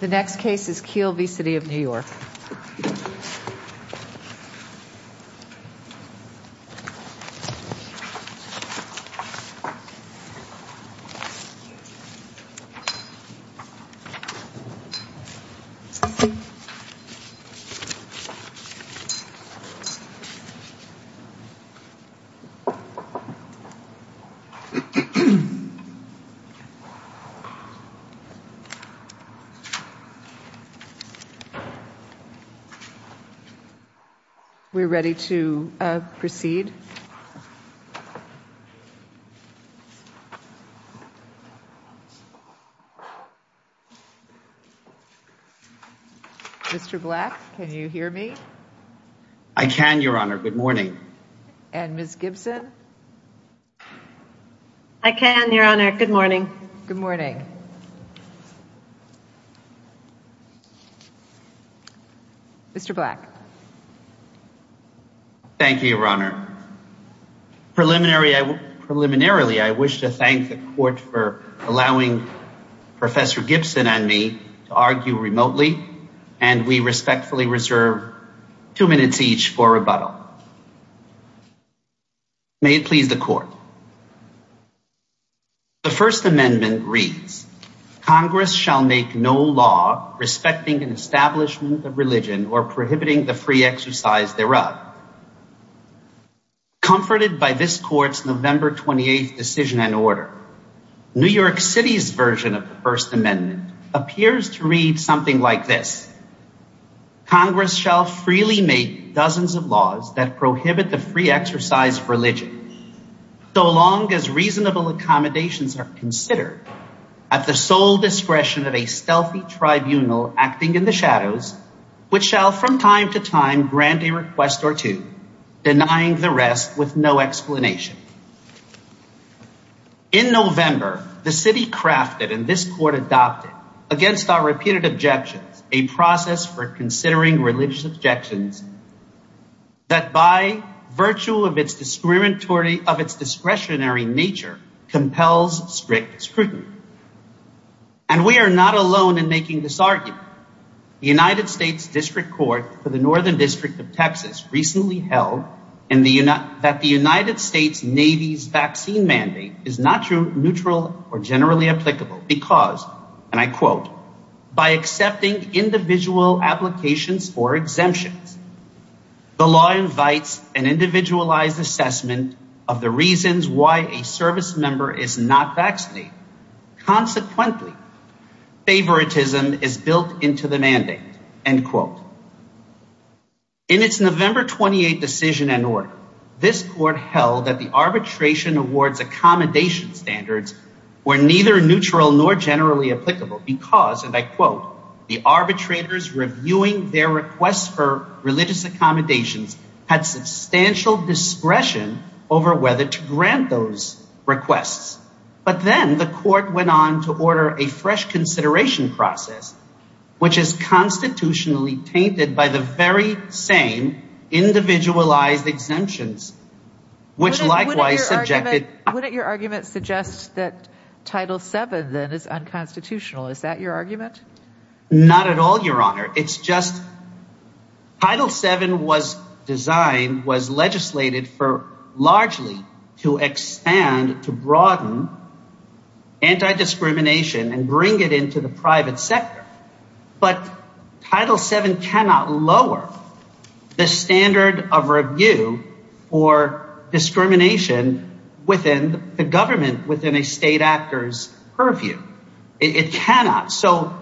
The next case is Keil v. City of New York. We're ready to proceed. Mr. Black, can you hear me? I can, Your Honor. Good morning. And Ms. Gibson? I can, Your Honor. Good morning. Good morning. Thank you, Mr. Black. Mr. Black. Thank you, Your Honor. Preliminarily, I wish to thank the Court for allowing Professor Gibson and me to argue remotely and we respectfully reserve two minutes each for rebuttal. May it please the Court. The First Amendment reads, Congress shall make no law respecting an establishment of religion or prohibiting the free exercise thereof. Comforted by this Court's November 28th decision and order, New York City's version of the First Amendment appears to read something like this, Congress shall freely make dozens of laws that prohibit the free exercise of religion so long as reasonable accommodations are considered at the sole discretion of a stealthy tribunal acting in the shadows which shall from time to time grant a request or two, denying the rest with no explanation. In November, the City crafted and this Court adopted against our repeated objections a process for considering religious objections that by virtue of its discretionary nature compels strict scrutiny. And we are not alone in making this argument. The United States District Court for the Northern District of Texas recently held that the United States Navy's vaccine mandate is not true, neutral or generally applicable because, and I quote, the arbitrators do not have individual applications or exemptions. The law invites an individualized assessment of the reasons why a service member is not vaccinated. Consequently, favoritism is built into the mandate, end quote. In its November 28th decision and order, this Court held that the arbitration award's accommodation standards were neither neutral nor generally applicable because, and I quote, the arbitrators reviewing their requests for religious accommodations had substantial discretion over whether to grant those requests. But then the Court went on to order a fresh consideration process which is constitutionally painted by the very same individualized exemptions, which likewise subjected- Wouldn't your argument suggest that Title VII then is unconstitutional? Is that your argument? Not at all, Your Honor. It's just Title VII was designed, was legislated for largely to expand, to broaden anti-discrimination and bring it into the private sector. But Title VII cannot lower the standard of review for discrimination within the government, within a state actor's purview. It cannot. So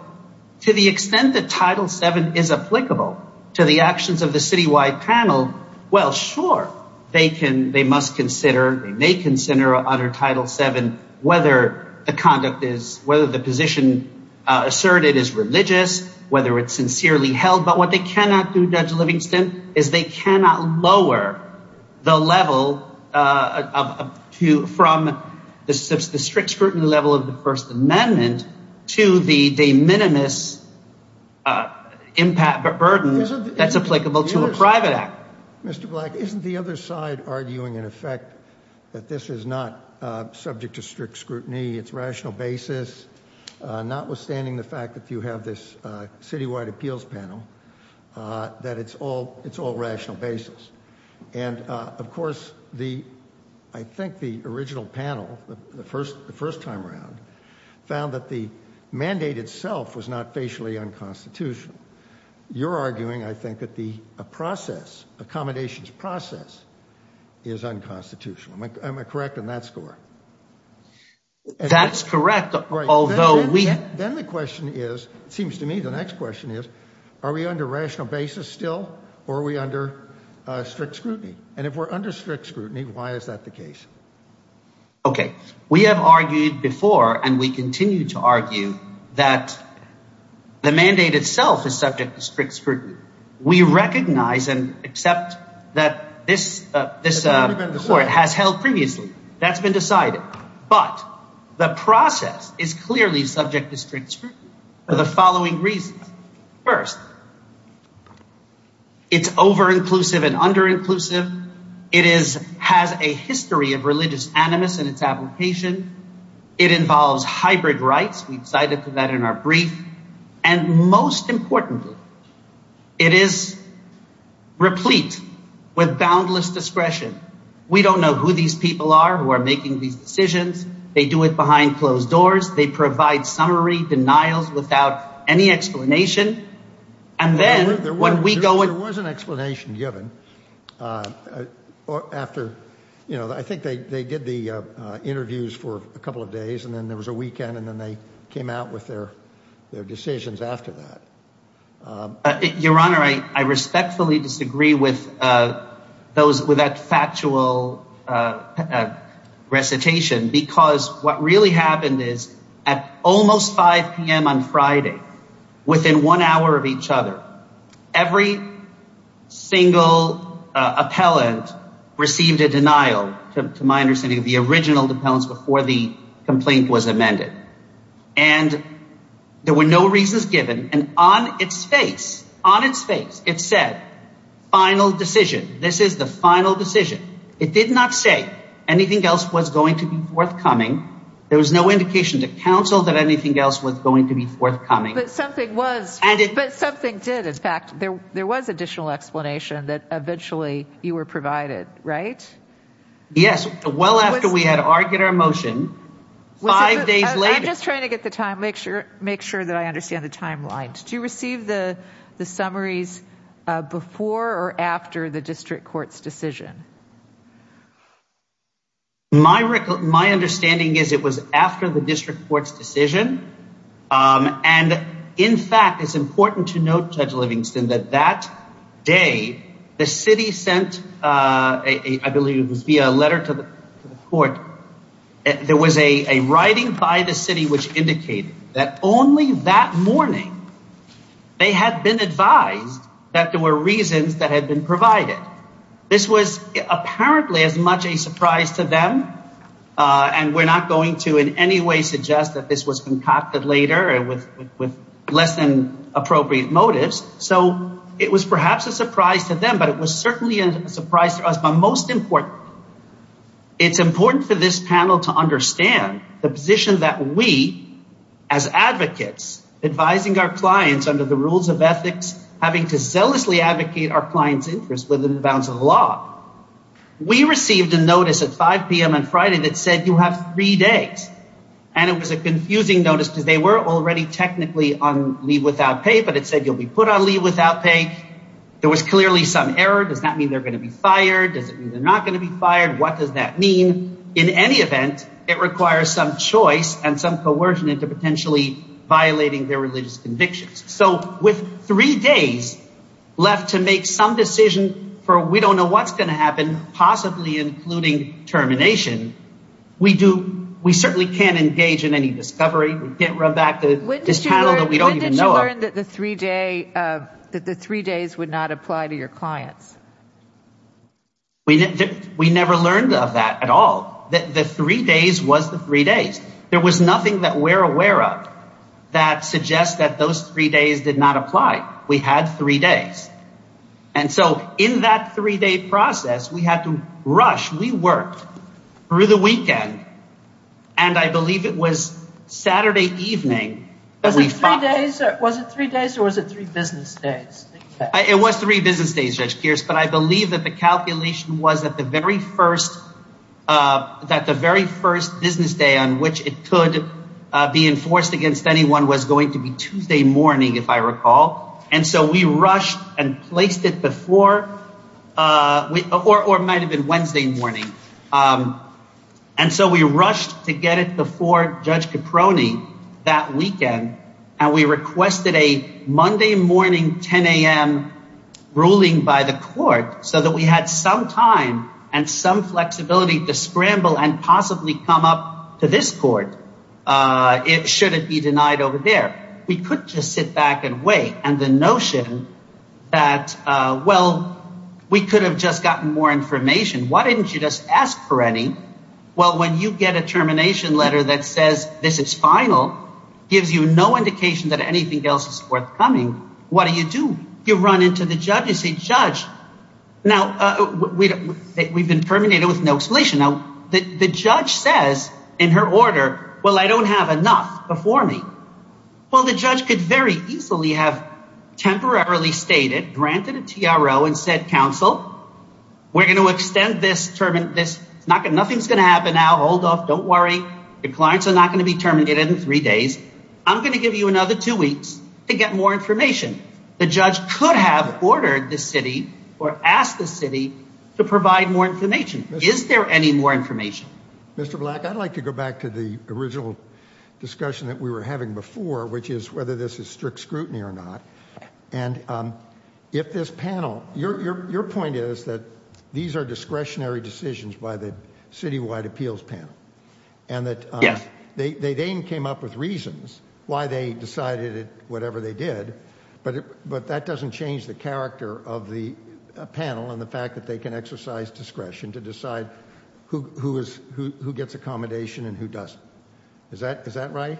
to the extent that Title VII is applicable to the actions of the citywide panel, well, sure, they can, they must consider, they may consider under Title VII whether the conduct is, whether the position asserted is religious, whether it's sincerely held, but what they cannot do, Judge Livingston, is they cannot lower the level of, from the strict scrutiny level of the First Amendment to the de minimis impact burden that's applicable to a private actor. Mr. Black, isn't the other side arguing, in effect, that this is not subject to strict scrutiny? It's rational basis, notwithstanding the fact that you have this citywide appeals panel, that it's all, it's all rational basis. And of course, the, I think the original panel, the first, the first time around, found that the mandate itself was not facially unconstitutional. You're arguing, I think, that the process, accommodations process, is unconstitutional. Am I correct in that score? That's correct, although we... Then the question is, it seems to me the next question is, are we under rational basis still, or are we under strict scrutiny? And if we're under strict scrutiny, why is that the case? Okay. We have argued before, and we continue to argue, that the mandate itself is subject to strict scrutiny. We recognize and accept that this court has held previously. That's been decided, but the process is clearly subject to strict scrutiny for the following reasons. First, it's over-inclusive and under-inclusive. It is, has a history of religious animus in its application. It involves hybrid rights. We've cited that in our brief. And most importantly, it is replete with boundless discretion. We don't know who these people are who are making these decisions. They do it behind closed doors. They provide summary denials without any explanation. And then, when we go in... There was an explanation given after, you know, I think they did the interviews for a couple of days, and then there was a weekend, and then they came out with their decisions after that. Your Honor, I respectfully disagree with that factual recitation, because what really happened is at almost 5 p.m. on Friday, within one hour of each other, every single appellant received a denial, to my understanding, of the original appellants before the complaint was amended. And there were no reasons given, and on its face, on its face, it said, final decision. This is the final decision. It did not say anything else was going to be forthcoming. There was no indication to counsel that anything else was going to be forthcoming. But something was... And it... But something did. But in fact, there was additional explanation that eventually you were provided, right? Yes, well after we had argued our motion, five days later... I'm just trying to get the time, make sure that I understand the timeline. Do you receive the summaries before or after the district court's decision? My understanding is it was after the district court's decision. And in fact, it's important to note, Judge Livingston, that that day, the city sent, I believe it was via a letter to the court, there was a writing by the city which indicated that only that morning, they had been advised that there were reasons that had been provided. This was apparently as much a surprise to them, and we're not going to in any way suggest that this was concocted later with less than appropriate motives. So it was perhaps a surprise to them, but it was certainly a surprise to us. But most important, it's important for this panel to understand the position that we, as advocates, advising our clients under the rules of ethics, having to zealously advocate our clients' interests within the bounds of the law. We received a notice at 5 p.m. on Friday that said you have three days. And it was a confusing notice because they were already technically on leave without pay, but it said you'll be put on leave without pay. There was clearly some error. Does that mean they're going to be fired? Does it mean they're not going to be fired? What does that mean? In any event, it requires some choice and some coercion into potentially violating their religious convictions. So with three days left to make some decision for we don't know what's going to happen, possibly including termination, we certainly can't engage in any discovery. We can't run back to this panel that we don't even know of. When did you learn that the three days would not apply to your clients? We never learned of that at all. The three days was the three days. There was nothing that we're aware of that suggests that those three days did not apply. We had three days. And so in that three day process, we had to rush. We worked through the weekend and I believe it was Saturday evening. Was it three days or was it three business days? It was three business days, Judge Pierce. But I believe that the calculation was that the very first business day on which it could be enforced against anyone was going to be Tuesday morning, if I recall. And so we rushed and placed it before or might have been Wednesday morning. And so we rushed to get it before Judge Caproni that weekend. And we requested a Monday morning, 10 a.m. ruling by the court so that we had some time and some flexibility to scramble and possibly come up to this court should it be denied over there. We could just sit back and wait. And the notion that, well, we could have just gotten more information. Why didn't you just ask for any? Well, when you get a termination letter that says this is final, gives you no indication that anything else is forthcoming. What do you do? You run into the judge. You say, Judge, now we've been terminated with no explanation. Now, the judge says in her order, well, I don't have enough before me. Well, the judge could very easily have temporarily stated, granted a TRO, and said, counsel, we're going to extend this. Nothing's going to happen now. Hold off. Don't worry. The clients are not going to be terminated in three days. I'm going to give you another two weeks to get more information. The judge could have ordered the city or asked the city to provide more information. Is there any more information? Mr. Black, I'd like to go back to the original discussion that we were having before, which is whether this is strict scrutiny or not. And if this panel, your point is that these are discretionary decisions by the citywide appeals panel. And that they came up with reasons why they decided whatever they did, but that doesn't change the character of the panel and the fact that they can exercise discretion to decide who gets accommodation and who doesn't. Is that right?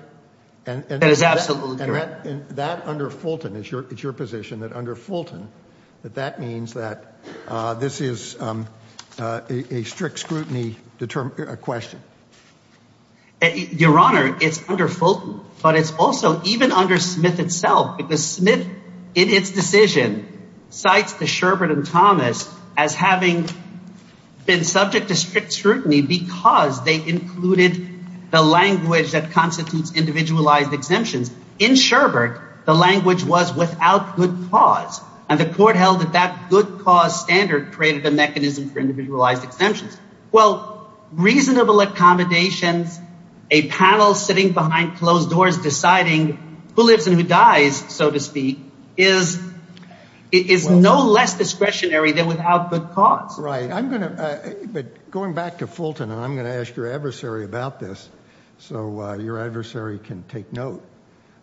And that under Fulton, it's your position that under Fulton, that that means that this is a strict scrutiny question. Your Honor, it's under Fulton, but it's also even under Smith itself, because Smith, in its decision, cites the Sherbert and Thomas as having been subject to strict scrutiny because they included the language that constitutes individualized exemptions. In Sherbert, the language was without good cause, and the court held that that good cause standard created the mechanism for individualized exemptions. Well, reasonable accommodations, a panel sitting behind closed doors deciding who lives and who dies, so to speak, is no less discretionary than without good cause. Right. I'm going to, but going back to Fulton, and I'm going to ask your adversary about this so your adversary can take note.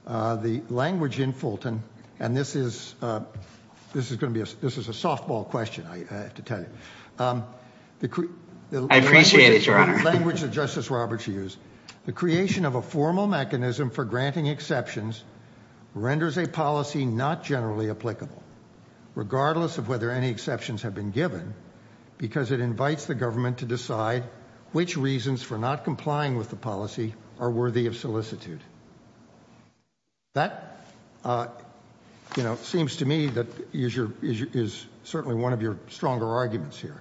The language in Fulton, and this is, this is going to be, this is a softball question, I have to tell you. I appreciate it, Your Honor. The language that Justice Roberts used, the creation of a formal mechanism for granting exceptions renders a policy not generally applicable, regardless of whether any exceptions have been given, because it invites the government to decide which reasons for not complying with the policy are worthy of solicitude. That, you know, seems to me that is your, is certainly one of your stronger arguments here.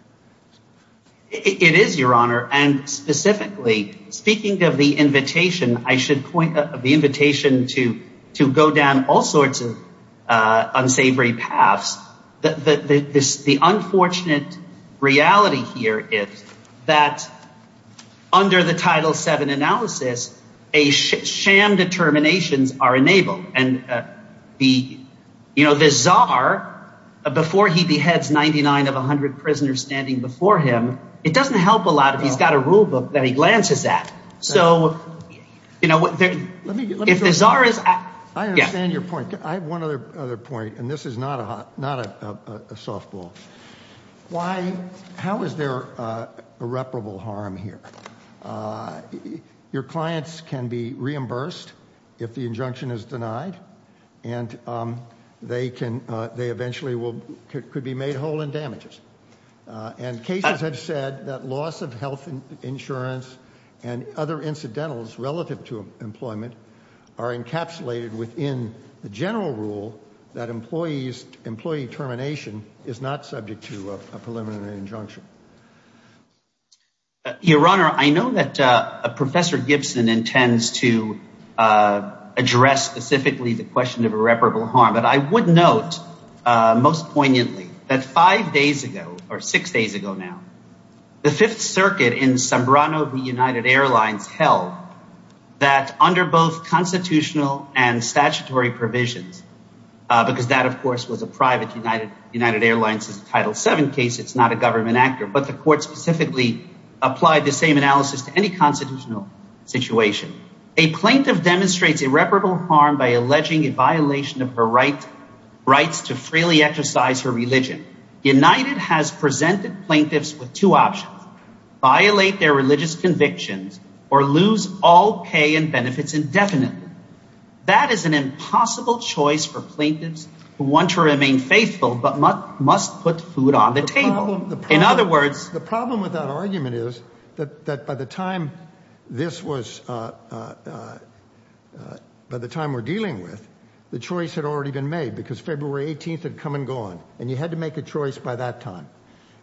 It is, Your Honor, and specifically, speaking of the invitation, I should point, of the paths, the unfortunate reality here is that under the Title VII analysis, a sham determinations are enabled, and the, you know, the czar, before he beheads 99 of 100 prisoners standing before him, it doesn't help a lot if he's got a rule book that he glances at. So, you know, if the czar is... I understand your point. I have one other point, and this is not a softball. Why, how is there irreparable harm here? Your clients can be reimbursed if the injunction is denied, and they can, they eventually could be made whole in damages, and cases have said that loss of health insurance and other incidentals relative to employment are encapsulated within the general rule that employees, employee termination is not subject to a preliminary injunction. Your Honor, I know that Professor Gibson intends to address specifically the question of irreparable harm, but I would note most poignantly that five days ago, or six days ago now, the Fifth that under both constitutional and statutory provisions, because that, of course, was a private United Airlines Title VII case. It's not a government actor, but the court specifically applied the same analysis to any constitutional situation. A plaintiff demonstrates irreparable harm by alleging a violation of her right, rights to freely exercise her religion. United has presented plaintiffs with two options, violate their religious convictions or lose all pay and benefits indefinitely. That is an impossible choice for plaintiffs who want to remain faithful, but must put food on the table. In other words... The problem with that argument is that by the time this was, by the time we're dealing with, the choice had already been made because February 18th had come and gone, and you had to make a choice by that time,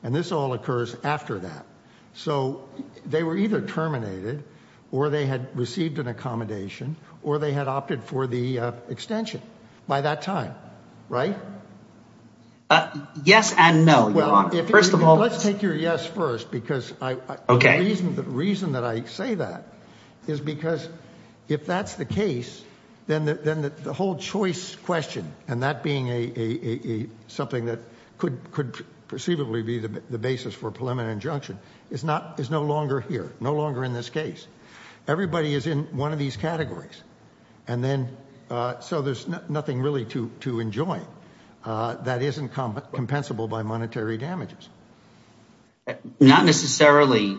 and this all occurs after that. So they were either terminated, or they had received an accommodation, or they had opted for the extension by that time, right? Yes and no, Your Honor. First of all... Let's take your yes first, because the reason that I say that is because if that's the case, then the whole choice question, and that being something that could perceivably be the basis for preliminary injunction, is no longer here, no longer in this case. Everybody is in one of these categories. And then, so there's nothing really to enjoy that isn't compensable by monetary damages. Not necessarily,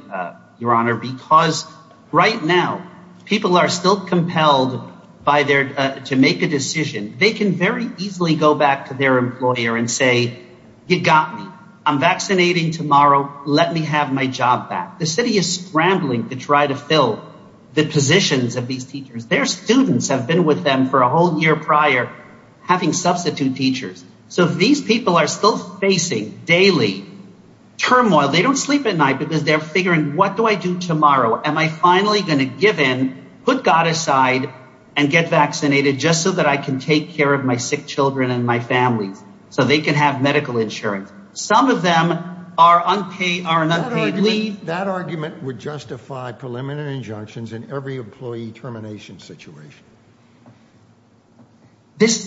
Your Honor, because right now people are still compelled to make a decision. They can very easily go back to their employer and say, you got me. I'm vaccinating tomorrow. Let me have my job back. The city is scrambling to try to fill the positions of these teachers. Their students have been with them for a whole year prior, having substitute teachers. So these people are still facing daily turmoil. They don't sleep at night because they're figuring, what do I do tomorrow? Am I finally going to give in, put God aside, and get vaccinated just so that I can take care of my sick children and my family so they can have medical insurance? Some of them are an unpaid leave. That argument would justify preliminary injunctions in every employee termination situation.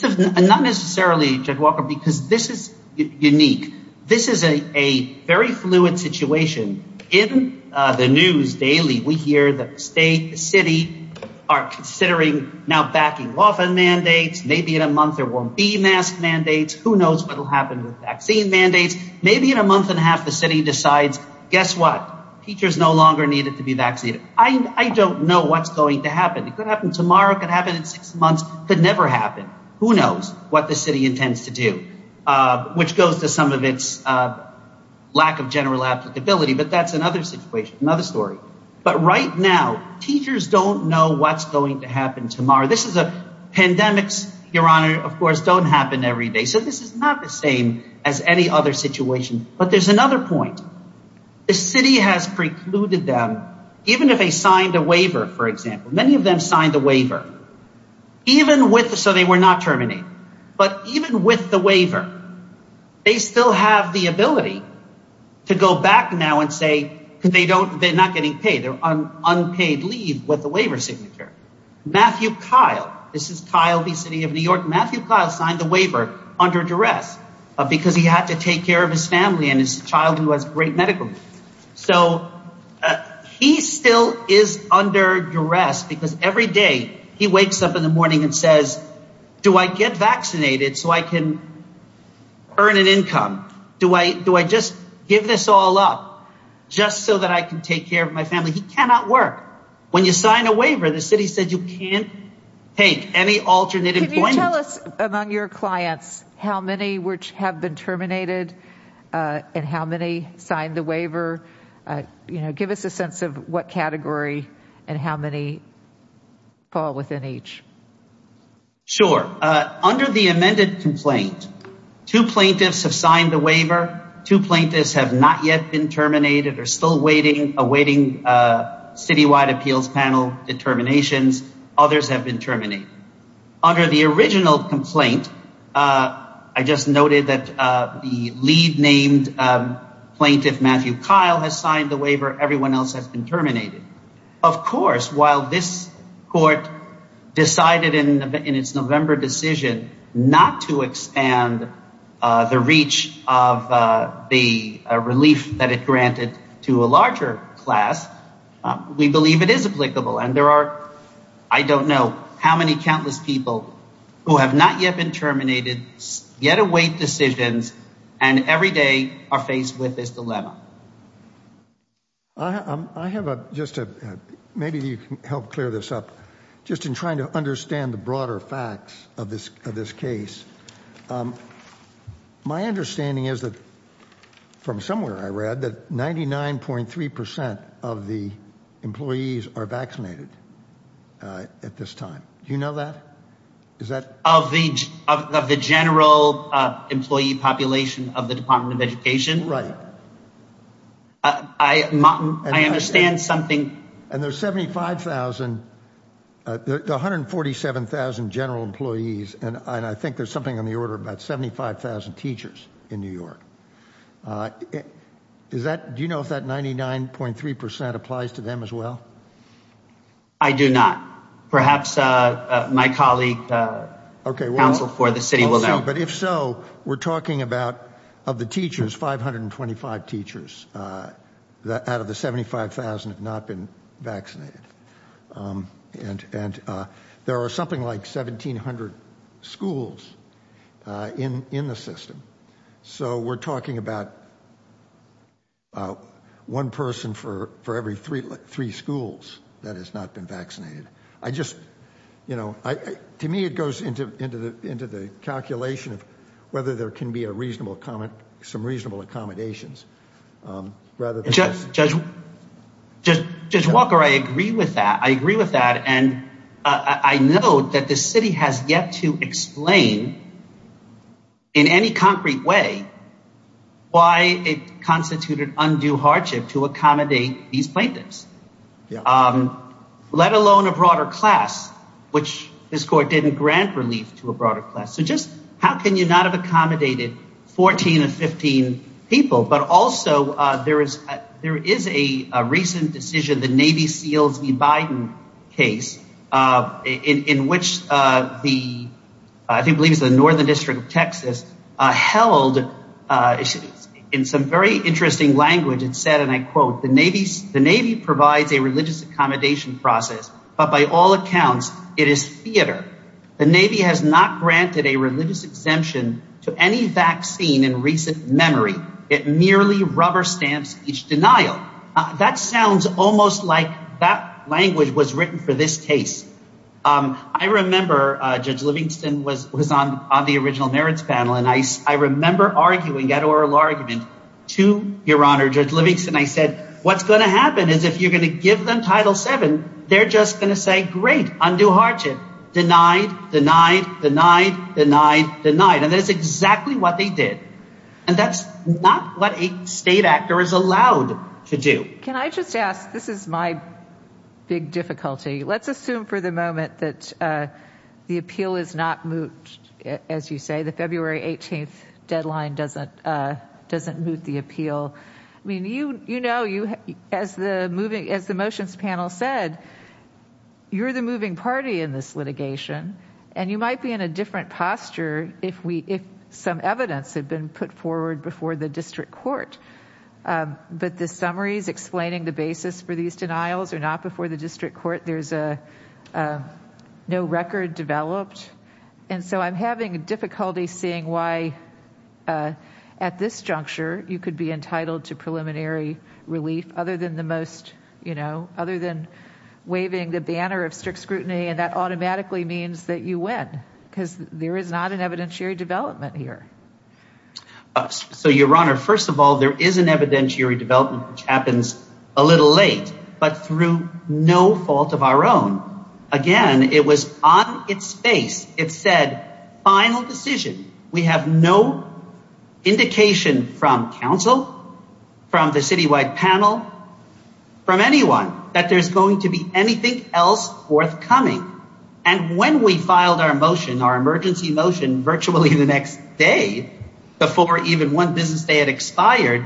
Not necessarily, Judge Walker, because this is unique. This is a very fluid situation. In the news daily, we hear that the state, the city are considering now backing lawful mandates. Maybe in a month, there won't be mask mandates. Who knows what will happen with vaccine mandates? Maybe in a month and a half, the city decides, guess what? Teachers no longer needed to be vaccinated. I don't know what's going to happen. It could happen tomorrow. It could happen in six months. Could never happen. Who knows what the city intends to do, which goes to some of its lack of general applicability. But that's another situation, another story. But right now, teachers don't know what's going to happen tomorrow. Pandemics, Your Honor, of course, don't happen every day. So this is not the same as any other situation. But there's another point. The city has precluded them, even if they signed a waiver, for example. Many of them signed a waiver, so they were not terminated. But even with the waiver, they still have the ability to go back now and say, they're not getting paid. They're on unpaid leave with the waiver signature. Matthew Kyle. This is Kyle v. City of New York. Matthew Kyle signed the waiver under duress because he had to take care of his family and his child, who has great medical. So he still is under duress because every day he wakes up in the morning and says, do I get vaccinated so I can earn an income? Do I do I just give this all up just so that I can take care of my family? He cannot work. When you sign a waiver, the city said you can't take any alternate employment. Can you tell us among your clients how many which have been terminated and how many signed the waiver? Give us a sense of what category and how many fall within each. Sure. Under the amended complaint, two plaintiffs have signed the waiver. Two plaintiffs have not yet been terminated or still waiting, awaiting citywide appeals panel determinations. Others have been terminated. Under the original complaint, I just noted that the lead named plaintiff, Matthew Kyle, has signed the waiver. Everyone else has been terminated. Of course, while this court decided in its November decision not to expand the reach of the relief that it granted to a larger class, we believe it is applicable. And there are, I don't know how many countless people who have not yet been terminated yet await decisions and every day are faced with this dilemma. I have a, just a, maybe you can help clear this up. Just in trying to understand the broader facts of this, of this case, my understanding is that from somewhere I read that 99.3% of the employees are vaccinated at this time. Do you know that? Is that? Of the, of the general employee population of the Department of Education. Right. I, I understand something. And there's 75,000, 147,000 general employees. And I think there's something on the order of about 75,000 teachers in New York. Is that, do you know if that 99.3% applies to them as well? I do not. Perhaps my colleague counsel for the city will know. But if so, we're talking about of the teachers, 525 teachers out of the 75,000 have not been vaccinated. And, and there are something like 1,700 schools in, in the system. So we're talking about one person for, for every three, three schools that has not been vaccinated. I just, you know, I, to me, it goes into, into the, into the calculation of whether there can be a reasonable comment, some reasonable accommodations. Rather than just, Judge Walker, I agree with that. I agree with that. And I know that the city has yet to explain in any concrete way why it constituted undue hardship to accommodate these plaintiffs. Um, let alone a broader class, which this court didn't grant relief to a broader class. So just how can you not have accommodated 14 or 15 people, but also, uh, there is, there is a recent decision, the Navy seals, the Biden case, uh, in, in which, uh, the, I think believes the Northern district of Texas, uh, held, uh, in some very interesting language and said, and I quote the Navy, the Navy provides a religious accommodation process, but by all accounts, it is theater. The Navy has not granted a religious exemption to any vaccine in recent memory. It merely rubber stamps each denial. That sounds almost like that language was written for this case. Um, I remember, uh, Judge Livingston was, was on, on the original merits panel. I remember arguing that oral argument to your Honor, Judge Livingston. I said, what's going to happen is if you're going to give them title seven, they're just going to say, great, undue hardship, denied, denied, denied, denied, denied. And that's exactly what they did. And that's not what a state actor is allowed to do. Can I just ask, this is my big difficulty. Let's assume for the moment that, uh, the appeal is not moved. As you say, the February 18th deadline doesn't, uh, doesn't move the appeal. I mean, you, you know, you, as the moving, as the motions panel said, you're the moving party in this litigation and you might be in a different posture if we, if some evidence had been put forward before the district court. Um, but the summaries explaining the basis for these denials are not before the district court. There's a, uh, no record developed. And so I'm having difficulty seeing why, uh, at this juncture, you could be entitled to preliminary relief other than the most, you know, other than waving the banner of strict scrutiny. And that automatically means that you win because there is not an evidentiary development here. So your Honor, first of all, there is an evidentiary development, which happens a little late, but through no fault of our own, again, it was on its face. It said final decision. We have no indication from council, from the citywide panel, from anyone that there's going to be anything else forthcoming. And when we filed our motion, our emergency motion virtually the next day, before even one business day had expired.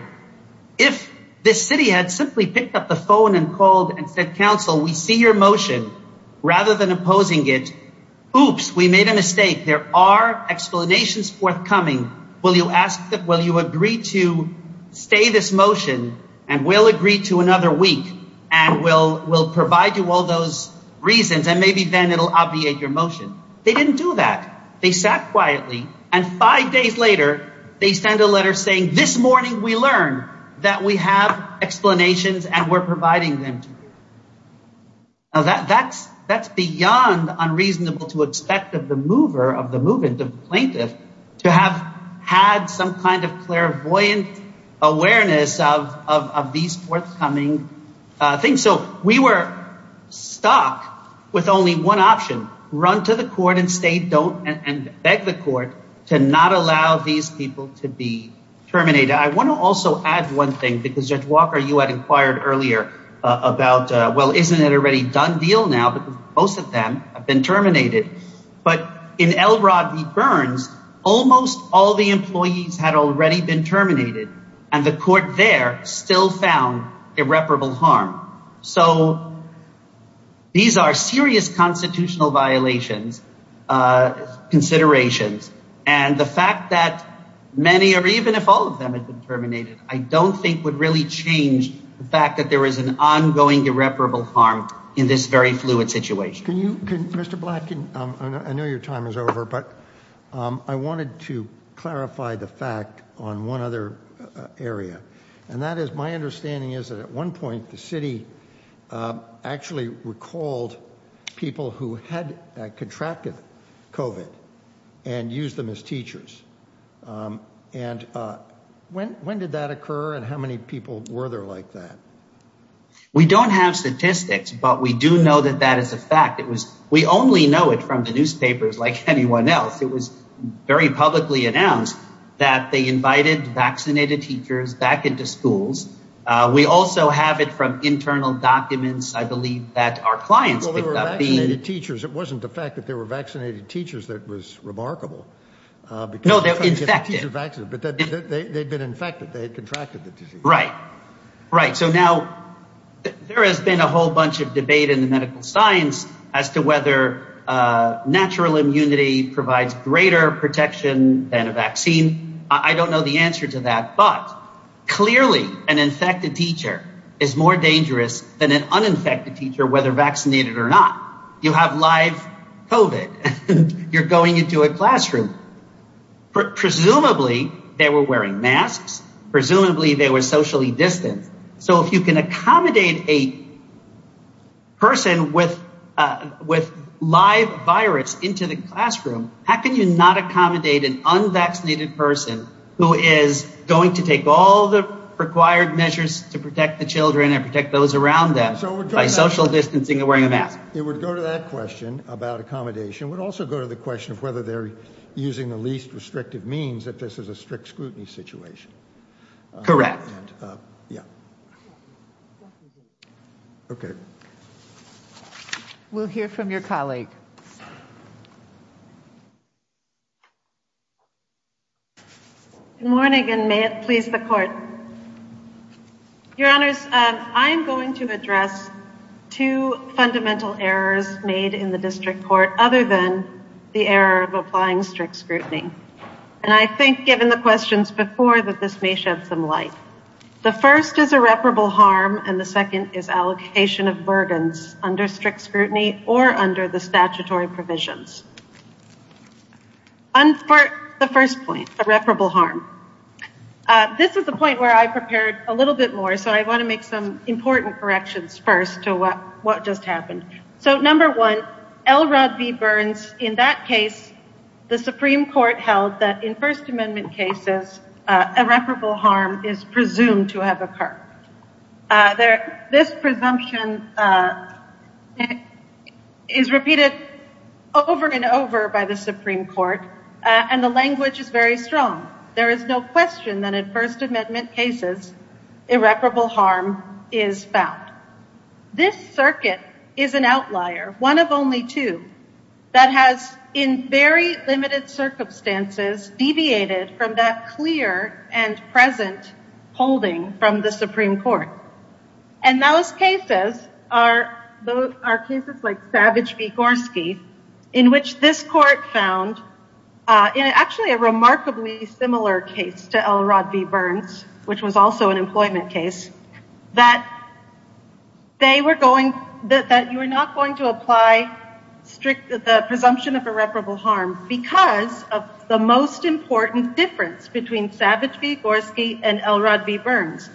If this city had simply picked up the phone and called and said, council, we see your motion rather than opposing it. Oops, we made a mistake. There are explanations forthcoming. Will you ask that? Will you agree to stay this motion? And we'll agree to another week and we'll, we'll provide you all those reasons. And maybe then it'll obviate your motion. They didn't do that. They sat quietly and five days later, they send a letter saying this morning, we learned that we have explanations and we're providing them to you. Now that's, that's beyond unreasonable to expect of the mover of the movement of plaintiff to have had some kind of clairvoyant awareness of, of, of these forthcoming things. So we were stuck with only one option, run to the court and say, don't and beg the court to not allow these people to be terminated. I want to also add one thing because Judge Walker, you had inquired earlier about, well, isn't it already done deal now, but most of them have been terminated. But in Elrod v. Burns, almost all the employees had already been terminated and the court there still found irreparable harm. So these are serious constitutional violations, considerations, and the fact that many, or even if all of them had been terminated, I don't think would really change the fact that there is an ongoing irreparable harm in this very fluid situation. Can you, Mr. Black, I know your time is over, but I wanted to clarify the fact on one other area. And that is my understanding is that at one point the city actually recalled people who had contracted COVID and used them as teachers. And when, when did that occur and how many people were there like that? We don't have statistics, but we do know that that is a fact. It was, we only know it from the newspapers like anyone else. It was very publicly announced that they invited vaccinated teachers back into schools. We also have it from internal documents. I believe that our clients picked up being... Well, they were vaccinated teachers. It wasn't the fact that they were vaccinated teachers that was remarkable because... No, they were infected. But they'd been infected. They had contracted the disease. Right. Right. So now there has been a whole bunch of debate in the medical science as to whether natural immunity provides greater protection than a vaccine. I don't know the answer to that, but clearly an infected teacher is more dangerous than an uninfected teacher, whether vaccinated or not. You have live COVID and you're going into a classroom. Presumably they were wearing masks. Presumably they were socially distanced. So if you can accommodate a person with live virus into the classroom, how can you not accommodate an unvaccinated person who is going to take all the required measures to protect the children and protect those around them by social distancing and wearing a mask? It would go to that question about accommodation. It would also go to the question of whether they're using the least restrictive means if this is a strict scrutiny situation. Correct. Yeah. Okay. We'll hear from your colleague. Good morning and may it please the court. Your honors, I'm going to address two fundamental errors made in the district court other than the error of applying strict scrutiny. And I think given the questions before that this may shed some light. The first is irreparable harm. And the second is allocation of burdens under strict scrutiny or under the statutory provisions. And for the first point, irreparable harm. This is the point where I prepared a little bit more. So I want to make some important corrections first to what just happened. So number one, L. Rudd v. Burns, in that case, the Supreme Court held that in First Amendment cases, irreparable harm is presumed to have occurred. This presumption is repeated over and over by the Supreme Court. And the language is very strong. There is no question that in First Amendment cases, irreparable harm is found. This circuit is an outlier, one of only two, that has in very limited circumstances deviated from that clear and present holding from the Supreme Court. And those cases are cases like Savage v. Gorski, in which this court found, in actually a remarkably similar case to L. Rudd v. Burns, which was also an employment case, that you are not going to apply the presumption of irreparable harm because of the most important difference between Savage v. Gorski and L. Rudd v. Burns,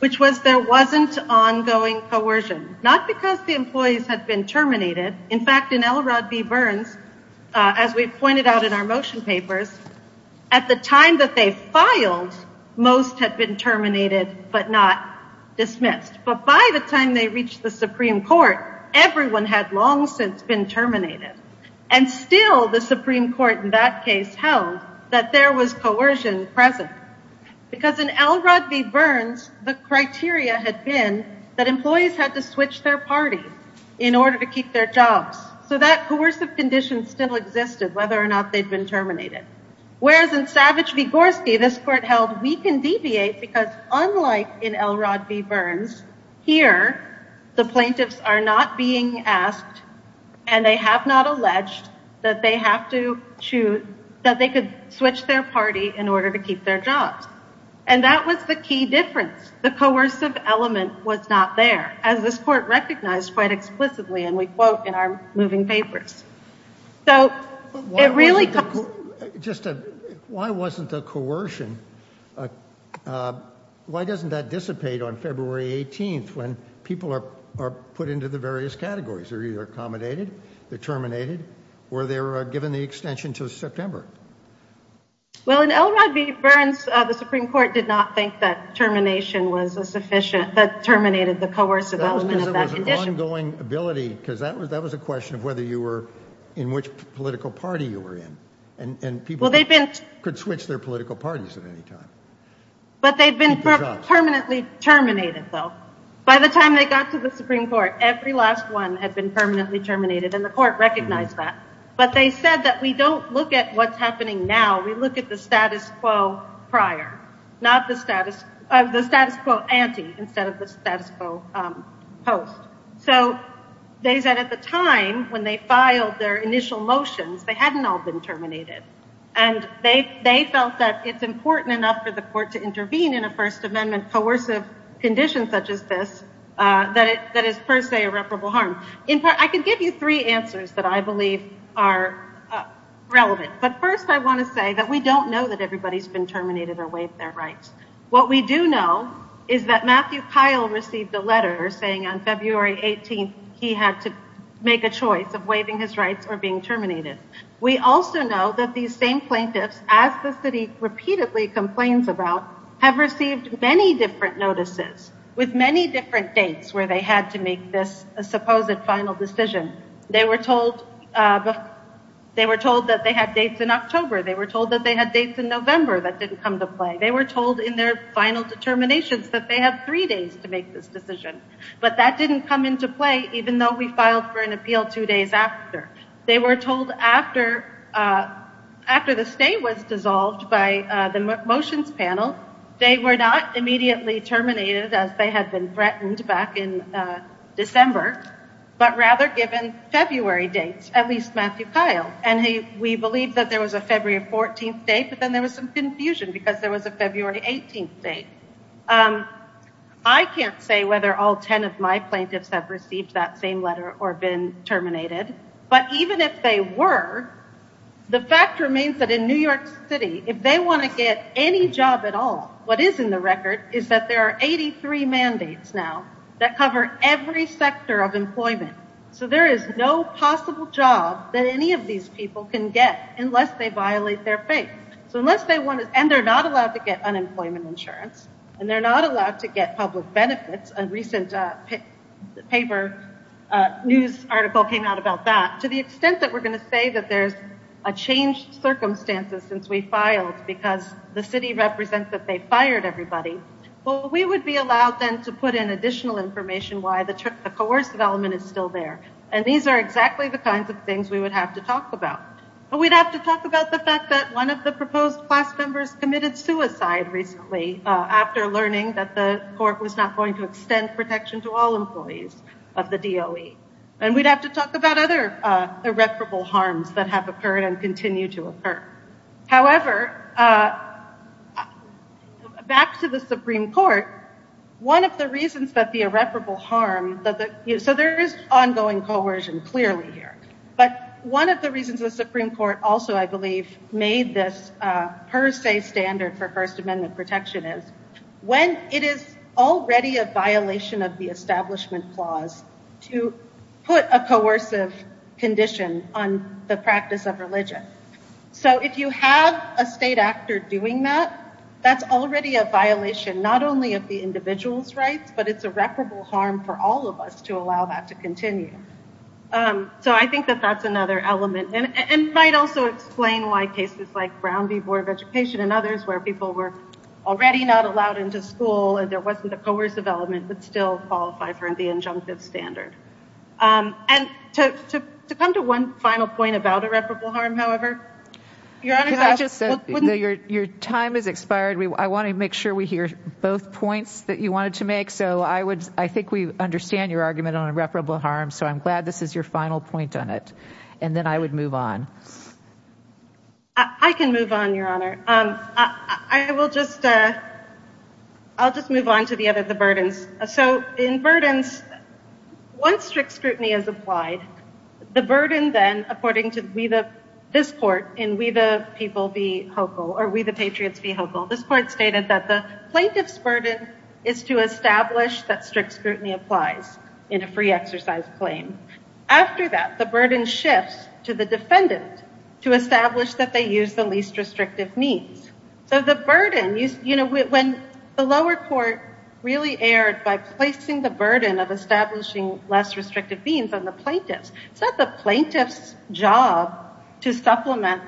which was there wasn't ongoing coercion. Not because the employees had been terminated. In fact, in L. Rudd v. Burns, as we pointed out in our motion papers, at the time that they filed, most had been terminated but not dismissed. But by the time they reached the Supreme Court, everyone had long since been terminated. And still the Supreme Court in that case held that there was coercion present. Because in L. Rudd v. Burns, the criteria had been that employees had to switch their party in order to keep their jobs. So that coercive condition still existed, whether or not they'd been terminated. Whereas in Savage v. Gorski, this court held we can deviate because unlike in L. Rudd v. Burns, here, the plaintiffs are not being asked and they have not alleged that they have to choose that they could switch their party in order to keep their jobs. And that was the key difference. The coercive element was not there, as this court recognized quite explicitly, and we quote in our moving papers. So it really... Just why wasn't the coercion? And why doesn't that dissipate on February 18th when people are put into the various categories? They're either accommodated, they're terminated, or they're given the extension to September. Well, in L. Rudd v. Burns, the Supreme Court did not think that termination was sufficient, that terminated the coercive element of that condition. That was because it was an ongoing ability, because that was a question of whether you were in which political party you were in. And people could switch their political parties. But they've been permanently terminated, though. By the time they got to the Supreme Court, every last one had been permanently terminated, and the court recognized that. But they said that we don't look at what's happening now. We look at the status quo prior, not the status quo ante, instead of the status quo post. So they said at the time, when they filed their initial motions, they hadn't all been terminated. And they felt that it's important enough for the court to intervene in a First Amendment coercive condition such as this that is per se irreparable harm. I can give you three answers that I believe are relevant. But first, I want to say that we don't know that everybody's been terminated or waived their rights. What we do know is that Matthew Kyle received a letter saying on February 18th he had to make a choice of waiving his rights or being terminated. We also know that these same plaintiffs, as the city repeatedly complains about, have received many different notices with many different dates where they had to make this supposed final decision. They were told that they had dates in October. They were told that they had dates in November that didn't come to play. They were told in their final determinations that they have three days to make this decision. But that didn't come into play, even though we filed for an appeal two days after. They were told after the state was dissolved by the motions panel, they were not immediately terminated as they had been threatened back in December, but rather given February dates, at least Matthew Kyle. And we believe that there was a February 14th date, but then there was some confusion because there was a February 18th date. I can't say whether all 10 of my plaintiffs have received that same letter or been terminated, but even if they were, the fact remains that in New York City, if they want to get any job at all, what is in the record is that there are 83 mandates now that cover every sector of employment. So there is no possible job that any of these people can get unless they violate their faith. And they're not allowed to get unemployment insurance, and they're not allowed to get public benefits. A recent paper news article came out about that. To the extent that we're going to say that there's a changed circumstances since we filed because the city represents that they fired everybody, well, we would be allowed then to put in additional information why the coercive element is still there. And these are exactly the kinds of things we would have to talk about. But we'd have to talk about the fact that one of the proposed class members committed suicide recently after learning that the court was not going to extend protection to all employees of the DOE. And we'd have to talk about other irreparable harms that have occurred and continue to occur. However, back to the Supreme Court, one of the reasons that the irreparable harm that the—so there is ongoing coercion clearly here. But one of the reasons the Supreme Court also, I believe, made this per se standard for First Amendment protection is when it is already a violation of the Establishment Clause to put a coercive condition on the practice of religion. So if you have a state actor doing that, that's already a violation not only of the individual's rights, but it's irreparable harm for all of us to allow that to continue. So I think that that's another element. And it might also explain why cases like Brown v. Board of Education and others where people were already not allowed into school and there wasn't a coercive element would still qualify for the injunctive standard. And to come to one final point about irreparable harm, however, Your Honor— Because I just said that your time has expired. I want to make sure we hear both points that you wanted to make. I think we understand your argument on irreparable harm. So I'm glad this is your final point on it. And then I would move on. I can move on, Your Honor. I will just—I'll just move on to the other—the burdens. So in burdens, one strict scrutiny is applied. The burden then, according to this court in We the People Be Hopeful or We the Patriots is to establish that strict scrutiny applies in a free exercise claim. After that, the burden shifts to the defendant to establish that they use the least restrictive means. So the burden—you know, when the lower court really erred by placing the burden of establishing less restrictive means on the plaintiffs, it's not the plaintiff's job to supplement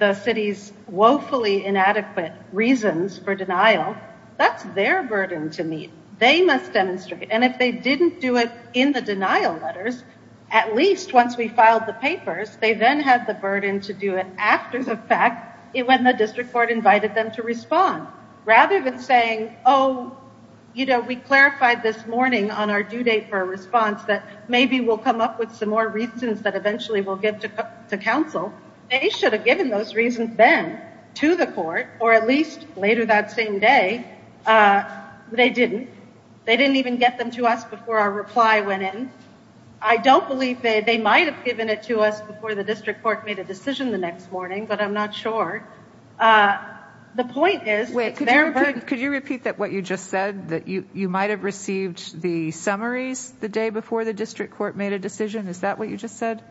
the city's woefully inadequate reasons for denial. That's their burden to meet. They must demonstrate. And if they didn't do it in the denial letters, at least once we filed the papers, they then had the burden to do it after the fact when the district court invited them to respond. Rather than saying, oh, you know, we clarified this morning on our due date for a response that maybe we'll come up with some more reasons that eventually we'll give to counsel, they should have given those reasons then to the court, or at least later that same day, they didn't. They didn't even get them to us before our reply went in. I don't believe they might have given it to us before the district court made a decision the next morning, but I'm not sure. The point is— Wait, could you repeat what you just said, that you might have received the summaries the day before the district court made a decision? Is that what you just said?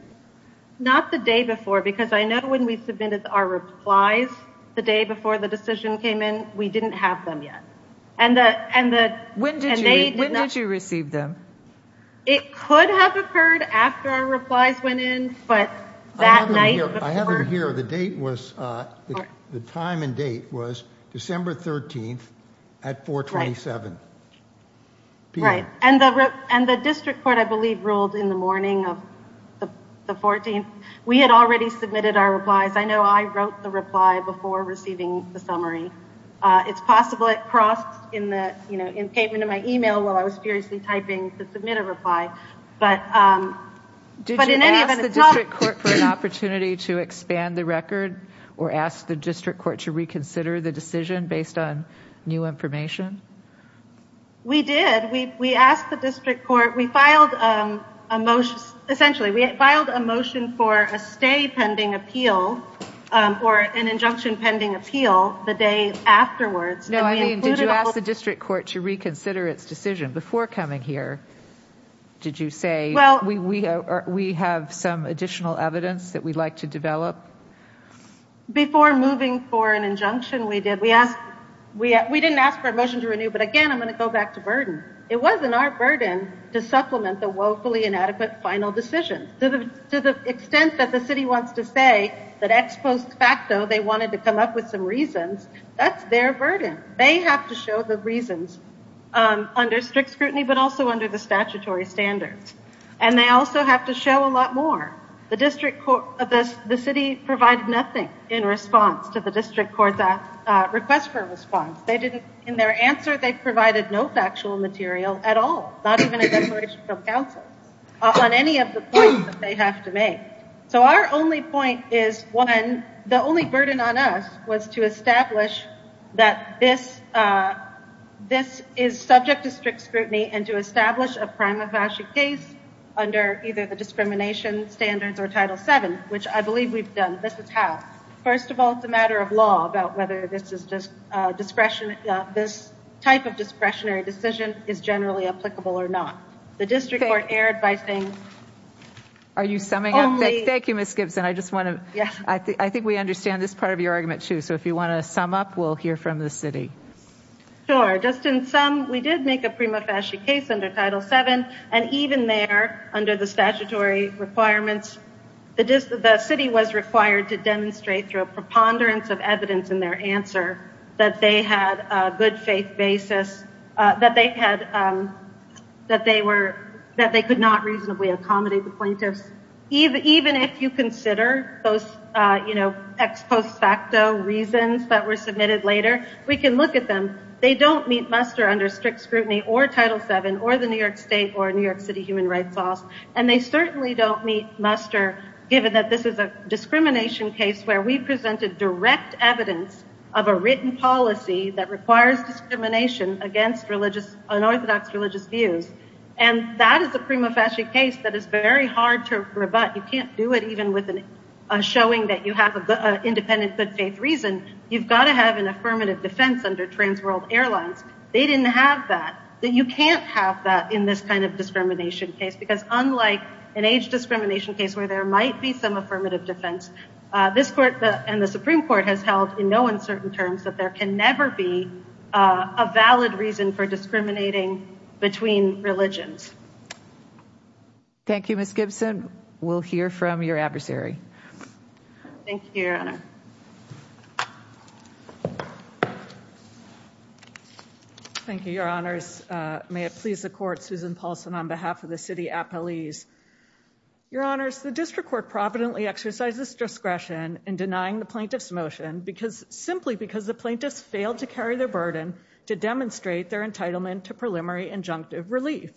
Not the day before, because I know when we submitted our replies the day before the decision came in, we didn't have them yet. When did you receive them? It could have occurred after our replies went in, but that night before— I have them here. The date was—the time and date was December 13th at 427 p.m. And the district court, I believe, ruled in the morning of the 14th. We had already submitted our replies. I know I wrote the reply before receiving the summary. It's possible it crossed in the, you know, in payment of my email while I was seriously typing to submit a reply, but— Did you ask the district court for an opportunity to expand the record, or ask the district court to reconsider the decision based on new information? We did. We asked the district court—we filed a motion—essentially, we filed a motion for a stay pending appeal, or an injunction pending appeal, the day afterwards. No, I mean, did you ask the district court to reconsider its decision before coming here? Did you say, we have some additional evidence that we'd like to develop? Before moving for an injunction, we did. We didn't ask for a motion to renew, but again, I'm going to go back to burden. It wasn't our burden to supplement the woefully inadequate final decision. To the extent that the city wants to say that ex post facto, they wanted to come up with some reasons, that's their burden. They have to show the reasons under strict scrutiny, but also under the statutory standards. And they also have to show a lot more. The district court—the city provided nothing in response to the district court's request for a response. In their answer, they provided no factual material at all, not even a declaration from council on any of the points that they have to make. So our only point is, one, the only burden on us was to establish that this is subject to strict scrutiny and to establish a prima facie case under either the discrimination standards or Title VII, which I believe we've done. This is how. First of all, it's a matter of law about whether this type of discretionary decision is generally applicable or not. The district court erred by saying only— Are you summing up? Thank you, Ms. Gibson. I just want to—I think we understand this part of your argument, too. So if you want to sum up, we'll hear from the city. Sure. Just in sum, we did make a prima facie case under Title VII, and even there, under the through a preponderance of evidence in their answer, that they had a good faith basis, that they could not reasonably accommodate the plaintiffs. Even if you consider those ex post facto reasons that were submitted later, we can look at them. They don't meet muster under strict scrutiny or Title VII or the New York State or New York City human rights laws, and they certainly don't meet muster given that this is a represented direct evidence of a written policy that requires discrimination against unorthodox religious views. And that is a prima facie case that is very hard to rebut. You can't do it even with a showing that you have an independent good faith reason. You've got to have an affirmative defense under Trans World Airlines. They didn't have that. You can't have that in this kind of discrimination case, because unlike an age discrimination case where there might be some affirmative defense, this court and the Supreme Court has held in no uncertain terms that there can never be a valid reason for discriminating between religions. Thank you, Ms. Gibson. We'll hear from your adversary. Thank you, Your Honor. Thank you, Your Honors. May it please the court, Susan Paulson on behalf of the city at police. Your Honors, the district court providently exercises discretion in denying the plaintiff's motion simply because the plaintiffs failed to carry their burden to demonstrate their entitlement to preliminary injunctive relief.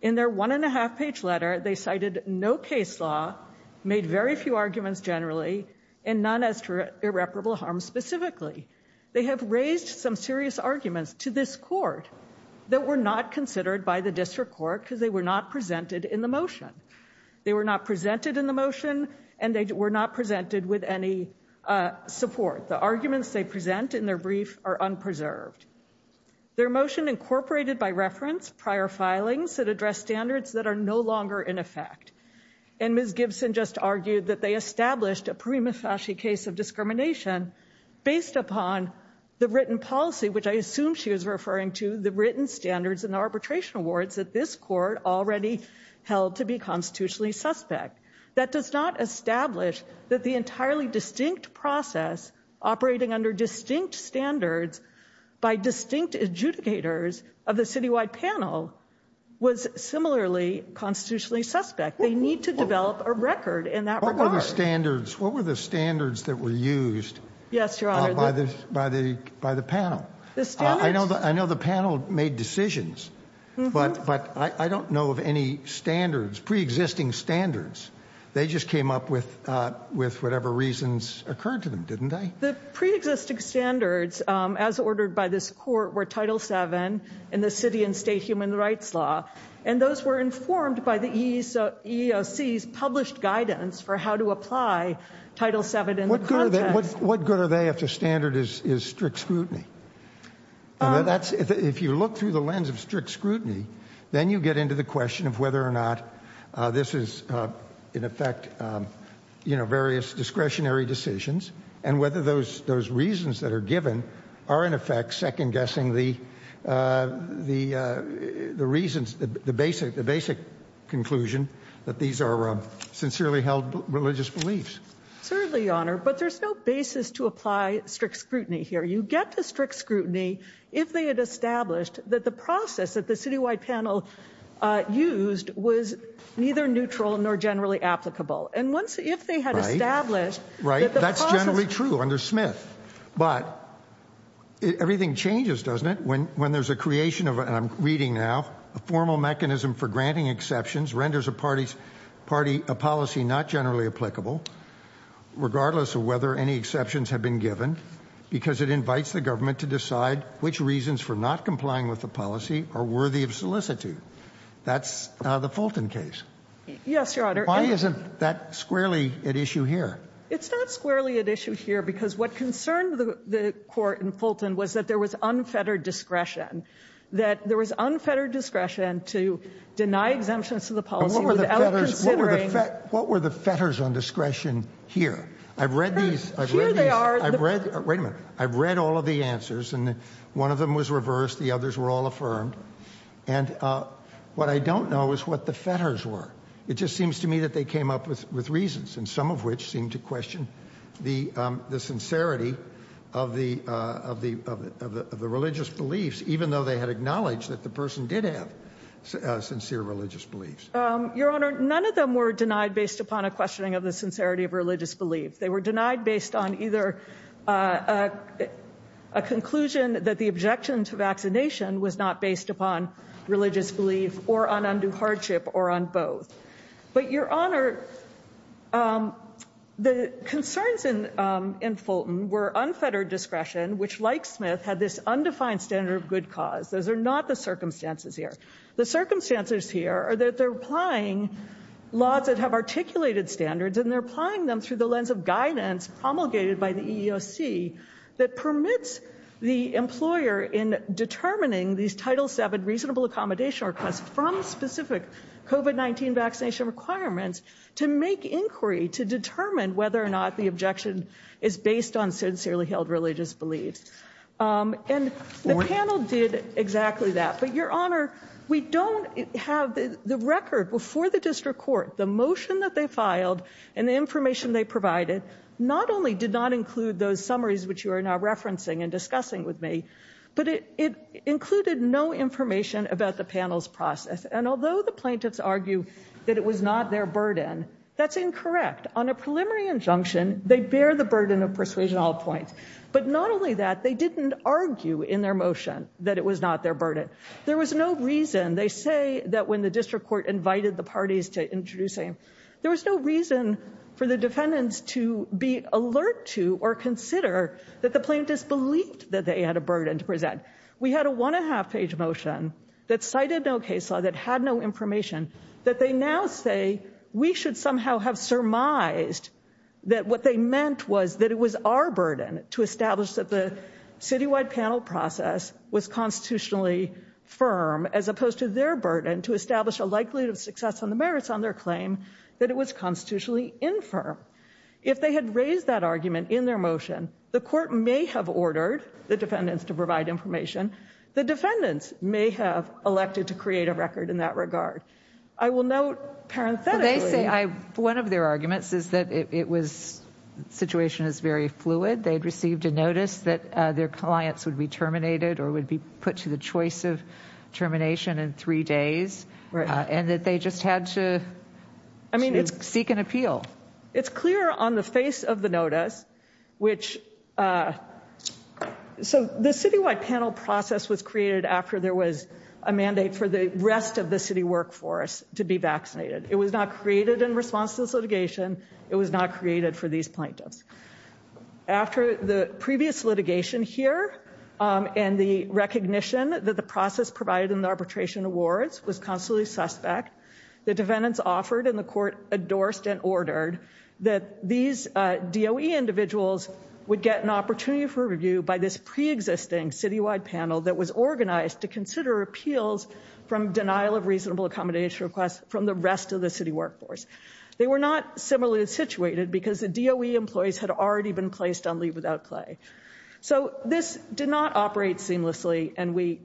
In their one and a half page letter, they cited no case law, made very few arguments generally, and none as irreparable harm specifically. They have raised some serious arguments to this court that were not considered by the They were not presented in the motion, and they were not presented with any support. The arguments they present in their brief are unpreserved. Their motion incorporated by reference prior filings that address standards that are no longer in effect. And Ms. Gibson just argued that they established a prima facie case of discrimination based upon the written policy, which I assume she was referring to the written standards and constitutionally suspect. That does not establish that the entirely distinct process operating under distinct standards by distinct adjudicators of the citywide panel was similarly constitutionally suspect. They need to develop a record in that regard. What were the standards? What were the standards that were used? Yes, Your Honor. By the panel. I know the panel made decisions, but I don't know of any standards, pre-existing standards. They just came up with whatever reasons occurred to them, didn't they? The pre-existing standards as ordered by this court were Title VII in the city and state human rights law, and those were informed by the EEOC's published guidance for how to apply Title VII in the context. What good are they if the standard is strict scrutiny? That's if you look through the lens of strict scrutiny, then you get into the question of whether or not this is, in effect, various discretionary decisions and whether those reasons that are given are, in effect, second guessing the reasons, the basic conclusion that these are sincerely held religious beliefs. Certainly, Your Honor. But there's no basis to apply strict scrutiny here. You get to strict scrutiny if they had established that the process that the city-wide panel used was neither neutral nor generally applicable. And if they had established that the process- Right. That's generally true under Smith. But everything changes, doesn't it, when there's a creation of, and I'm reading now, a formal mechanism for granting exceptions renders a policy not generally applicable regardless of whether any exceptions have been given because it invites the government to decide which reasons for not complying with the policy are worthy of solicitude. That's the Fulton case. Yes, Your Honor. Why isn't that squarely at issue here? It's not squarely at issue here because what concerned the court in Fulton was that there was unfettered discretion, that there was unfettered discretion to deny exemptions to the policy without considering- I've read all of the answers, and one of them was reversed. The others were all affirmed. And what I don't know is what the fetters were. It just seems to me that they came up with reasons, and some of which seem to question the sincerity of the religious beliefs, even though they had acknowledged that the person did have sincere religious beliefs. Your Honor, none of them were denied based upon a questioning of the sincerity of religious beliefs. They were denied based on either a conclusion that the objection to vaccination was not based upon religious belief or on undue hardship or on both. But, Your Honor, the concerns in Fulton were unfettered discretion, which, like Smith, had this undefined standard of good cause. Those are not the circumstances here. The circumstances here are that they're applying laws that have articulated standards, and they're applying them through the lens of guidance promulgated by the EEOC that permits the employer in determining these Title VII reasonable accommodation requests from specific COVID-19 vaccination requirements to make inquiry to determine whether or not the objection is based on sincerely held religious beliefs. And the panel did exactly that. But, Your Honor, we don't have the record. Before the district court, the motion that they filed and the information they provided not only did not include those summaries which you are now referencing and discussing with me, but it included no information about the panel's process. And although the plaintiffs argue that it was not their burden, that's incorrect. On a preliminary injunction, they bear the burden of persuasion at all points. But not only that, they didn't argue in their motion that it was not their burden. There was no reason—they say that when the district court invited the parties to introduce them, there was no reason for the defendants to be alert to or consider that the plaintiffs believed that they had a burden to present. We had a one-and-a-half-page motion that cited no case law, that had no information, that they now say we should somehow have surmised that what they meant was that it was our burden, to establish that the citywide panel process was constitutionally firm, as opposed to their burden to establish a likelihood of success on the merits on their claim, that it was constitutionally infirm. If they had raised that argument in their motion, the court may have ordered the defendants to provide information. The defendants may have elected to create a record in that regard. I will note, parenthetically— They say—one of their arguments is that it was—the situation is very fluid. They'd received a notice that their clients would be terminated or would be put to the choice of termination in three days, and that they just had to seek an appeal. It's clear on the face of the notice, which—so the citywide panel process was created after there was a mandate for the rest of the city workforce to be vaccinated. It was not created in response to this litigation. It was not created for these plaintiffs. After the previous litigation here, and the recognition that the process provided in the arbitration awards was constantly suspect, the defendants offered, and the court endorsed and ordered, that these DOE individuals would get an opportunity for review by this preexisting citywide panel that was organized to consider appeals from denial of reasonable accommodation requests from the rest of the city workforce. They were not similarly situated, because the DOE employees had already been placed on leave without pay. So this did not operate seamlessly, and we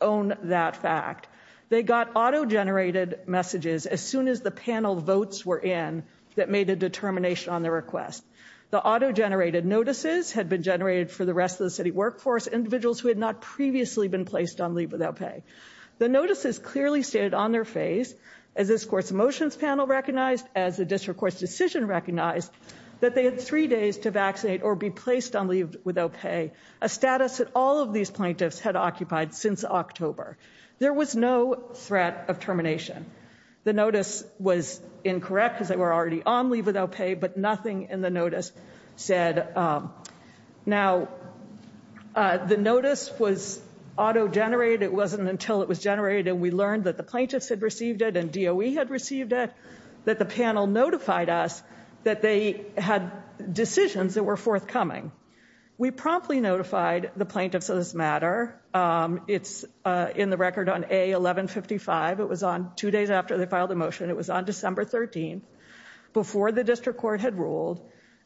own that fact. They got auto-generated messages as soon as the panel votes were in that made a determination on the request. The auto-generated notices had been generated for the rest of the city workforce, individuals who had not previously been placed on leave without pay. The notices clearly stated on their face, as this court's motions panel recognized, as the district court's decision recognized, that they had three days to vaccinate or be placed on leave without pay, a status that all of these plaintiffs had occupied since October. There was no threat of termination. The notice was incorrect, because they were already on leave without pay, but nothing in the notice said. Now, the notice was auto-generated. It wasn't until it was generated and we learned that the plaintiffs had received it and DOE had received it that the panel notified us that they had decisions that were forthcoming. We promptly notified the plaintiffs of this matter. It's in the record on A-1155. It was on two days after they filed the motion. It was on December 13th, before the district court had ruled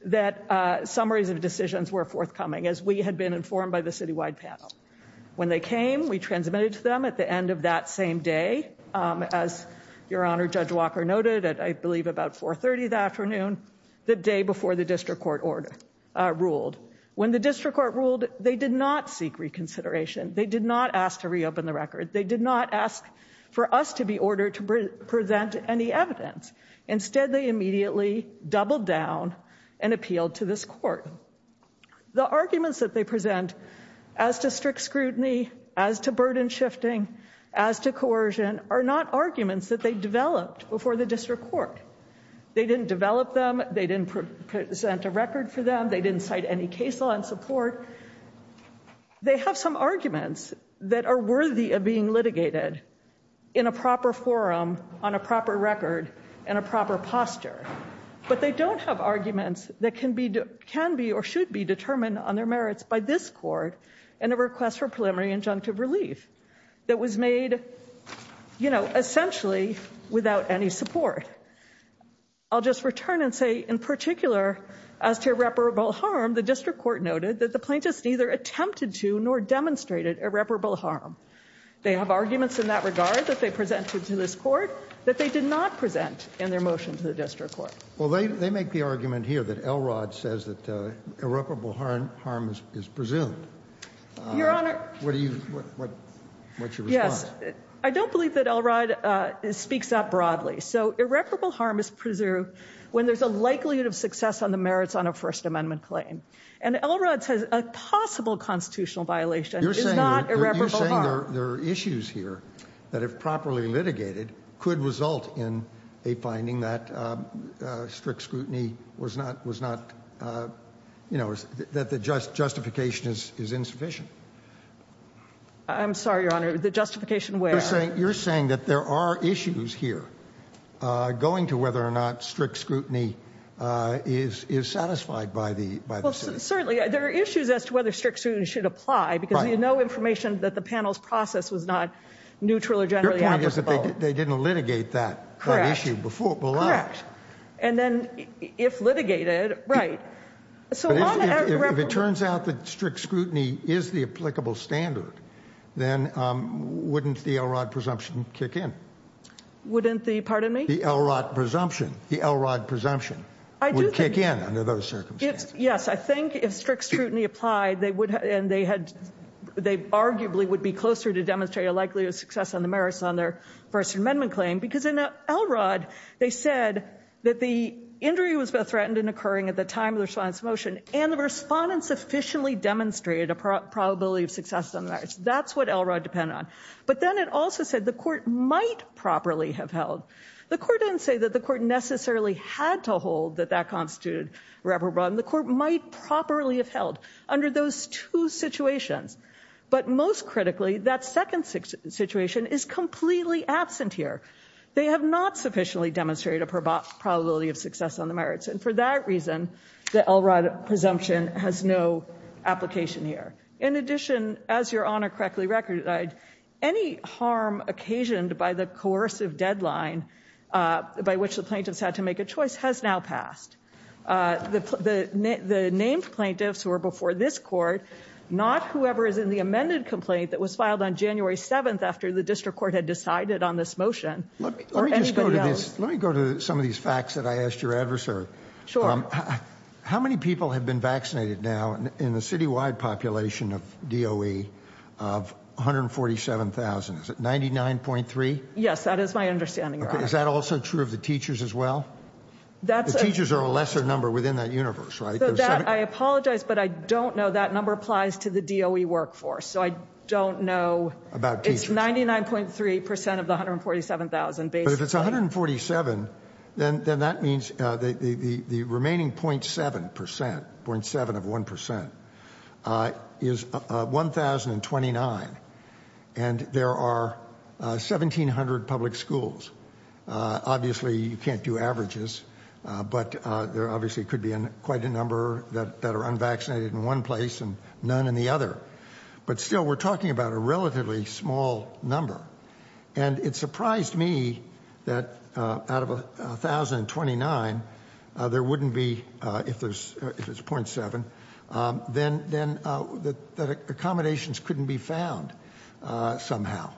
that summaries of decisions were forthcoming, as we had been informed by the city-wide panel. When they came, we transmitted to them at the end of that same day, as Your Honor, Judge Walker noted, at I believe about 4.30 that afternoon, the day before the district court ruled. When the district court ruled, they did not seek reconsideration. They did not ask to reopen the record. They did not ask for us to be ordered to present any evidence. Instead, they immediately doubled down and appealed to this court. The arguments that they present as to strict scrutiny, as to burden shifting, as to coercion are not arguments that they developed before the district court. They didn't develop them. They didn't present a record for them. They didn't cite any case law in support. However, they have some arguments that are worthy of being litigated in a proper forum, on a proper record, in a proper posture. But they don't have arguments that can be or should be determined on their merits by this court in a request for preliminary injunctive relief that was made, you know, essentially without any support. I'll just return and say, in particular, as to irreparable harm, the district court noted that the plaintiffs neither attempted to nor demonstrated irreparable harm. They have arguments in that regard that they presented to this court that they did not present in their motion to the district court. Well, they make the argument here that Elrod says that irreparable harm is presumed. Your Honor. What do you, what's your response? Yes, I don't believe that Elrod speaks that broadly. So irreparable harm is presumed when there's a likelihood of success on the merits on a First Amendment claim. And Elrod says a possible constitutional violation is not irreparable harm. You're saying there are issues here that, if properly litigated, could result in a finding that strict scrutiny was not, you know, that the justification is insufficient. I'm sorry, Your Honor. The justification where? You're saying that there are issues here going to whether or not strict scrutiny is satisfied by the, by the citizen. Certainly, there are issues as to whether strict scrutiny should apply because you know information that the panel's process was not neutral or generally applicable. Your point is that they didn't litigate that issue before. Correct. And then if litigated, right. So if it turns out that strict scrutiny is the applicable standard, then wouldn't the Elrod presumption kick in? Wouldn't the, pardon me? The Elrod presumption, the Elrod presumption would kick in under those circumstances. Yes. I think if strict scrutiny applied, they would, and they had, they arguably would be closer to demonstrate a likelihood of success on the merits on their First Amendment claim because in Elrod, they said that the injury was threatened and occurring at the time of the respondent's motion and the respondent sufficiently demonstrated a probability of success on the merits. That's what Elrod depended on. But then it also said the court might properly have held. The court didn't say that the court necessarily had to hold that that constituted reprobate. The court might properly have held under those two situations. But most critically, that second situation is completely absent here. They have not sufficiently demonstrated a probability of success on the merits. And for that reason, the Elrod presumption has no application here. In addition, as Your Honor correctly recognized, any harm occasioned by the coercive deadline by which the plaintiffs had to make a choice has now passed. The named plaintiffs who were before this court, not whoever is in the amended complaint that was filed on January 7th after the district court had decided on this motion. Let me just go to this. Let me go to some of these facts that I asked your adversary. Sure. How many people have been vaccinated now in the citywide population of DOE of 147,000? Is it 99.3? Yes, that is my understanding. Is that also true of the teachers as well? The teachers are a lesser number within that universe, right? I apologize, but I don't know. That number applies to the DOE workforce. So I don't know. About teachers. It's 99.3% of the 147,000 basically. But if it's 147, then that means the remaining 0.7% of 1% is 1,029. And there are 1,700 public schools. Obviously, you can't do averages, but there obviously could be quite a number that are unvaccinated in one place and none in the other. But still, we're talking about a relatively small number. And it surprised me that out of 1,029, there wouldn't be, if it's 0.7, then accommodations couldn't be found somehow.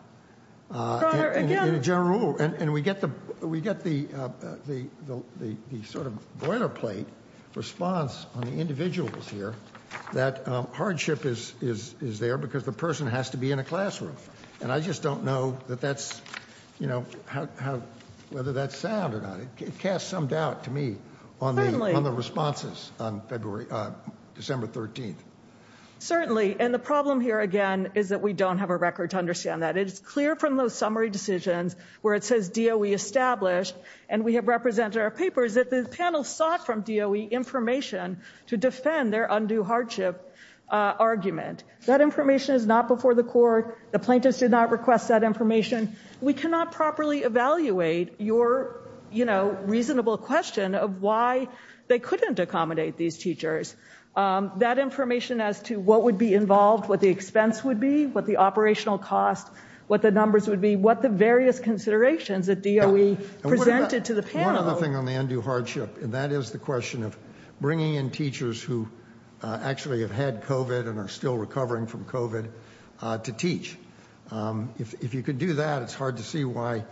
Father, again. In general, and we get the sort of boilerplate response on the individuals here, that hardship is there because the person has to be in a classroom. And I just don't know whether that's sound or not. It casts some doubt to me on the responses on December 13th. Certainly. And the problem here, again, is that we don't have a record to understand that. It's clear from those summary decisions where it says DOE established, and we have represented our papers that the panel sought from DOE information to defend their undue hardship argument. That information is not before the court. The plaintiffs did not request that information. We cannot properly evaluate your reasonable question of why they couldn't accommodate these teachers. That information as to what would be involved, what the expense would be, what the operational cost, what the numbers would be, what the various considerations that DOE presented to the panel. One other thing on the undue hardship, and that is the question of bringing in teachers who actually have had COVID and are still recovering from COVID to teach. If you could do that, it's hard to see why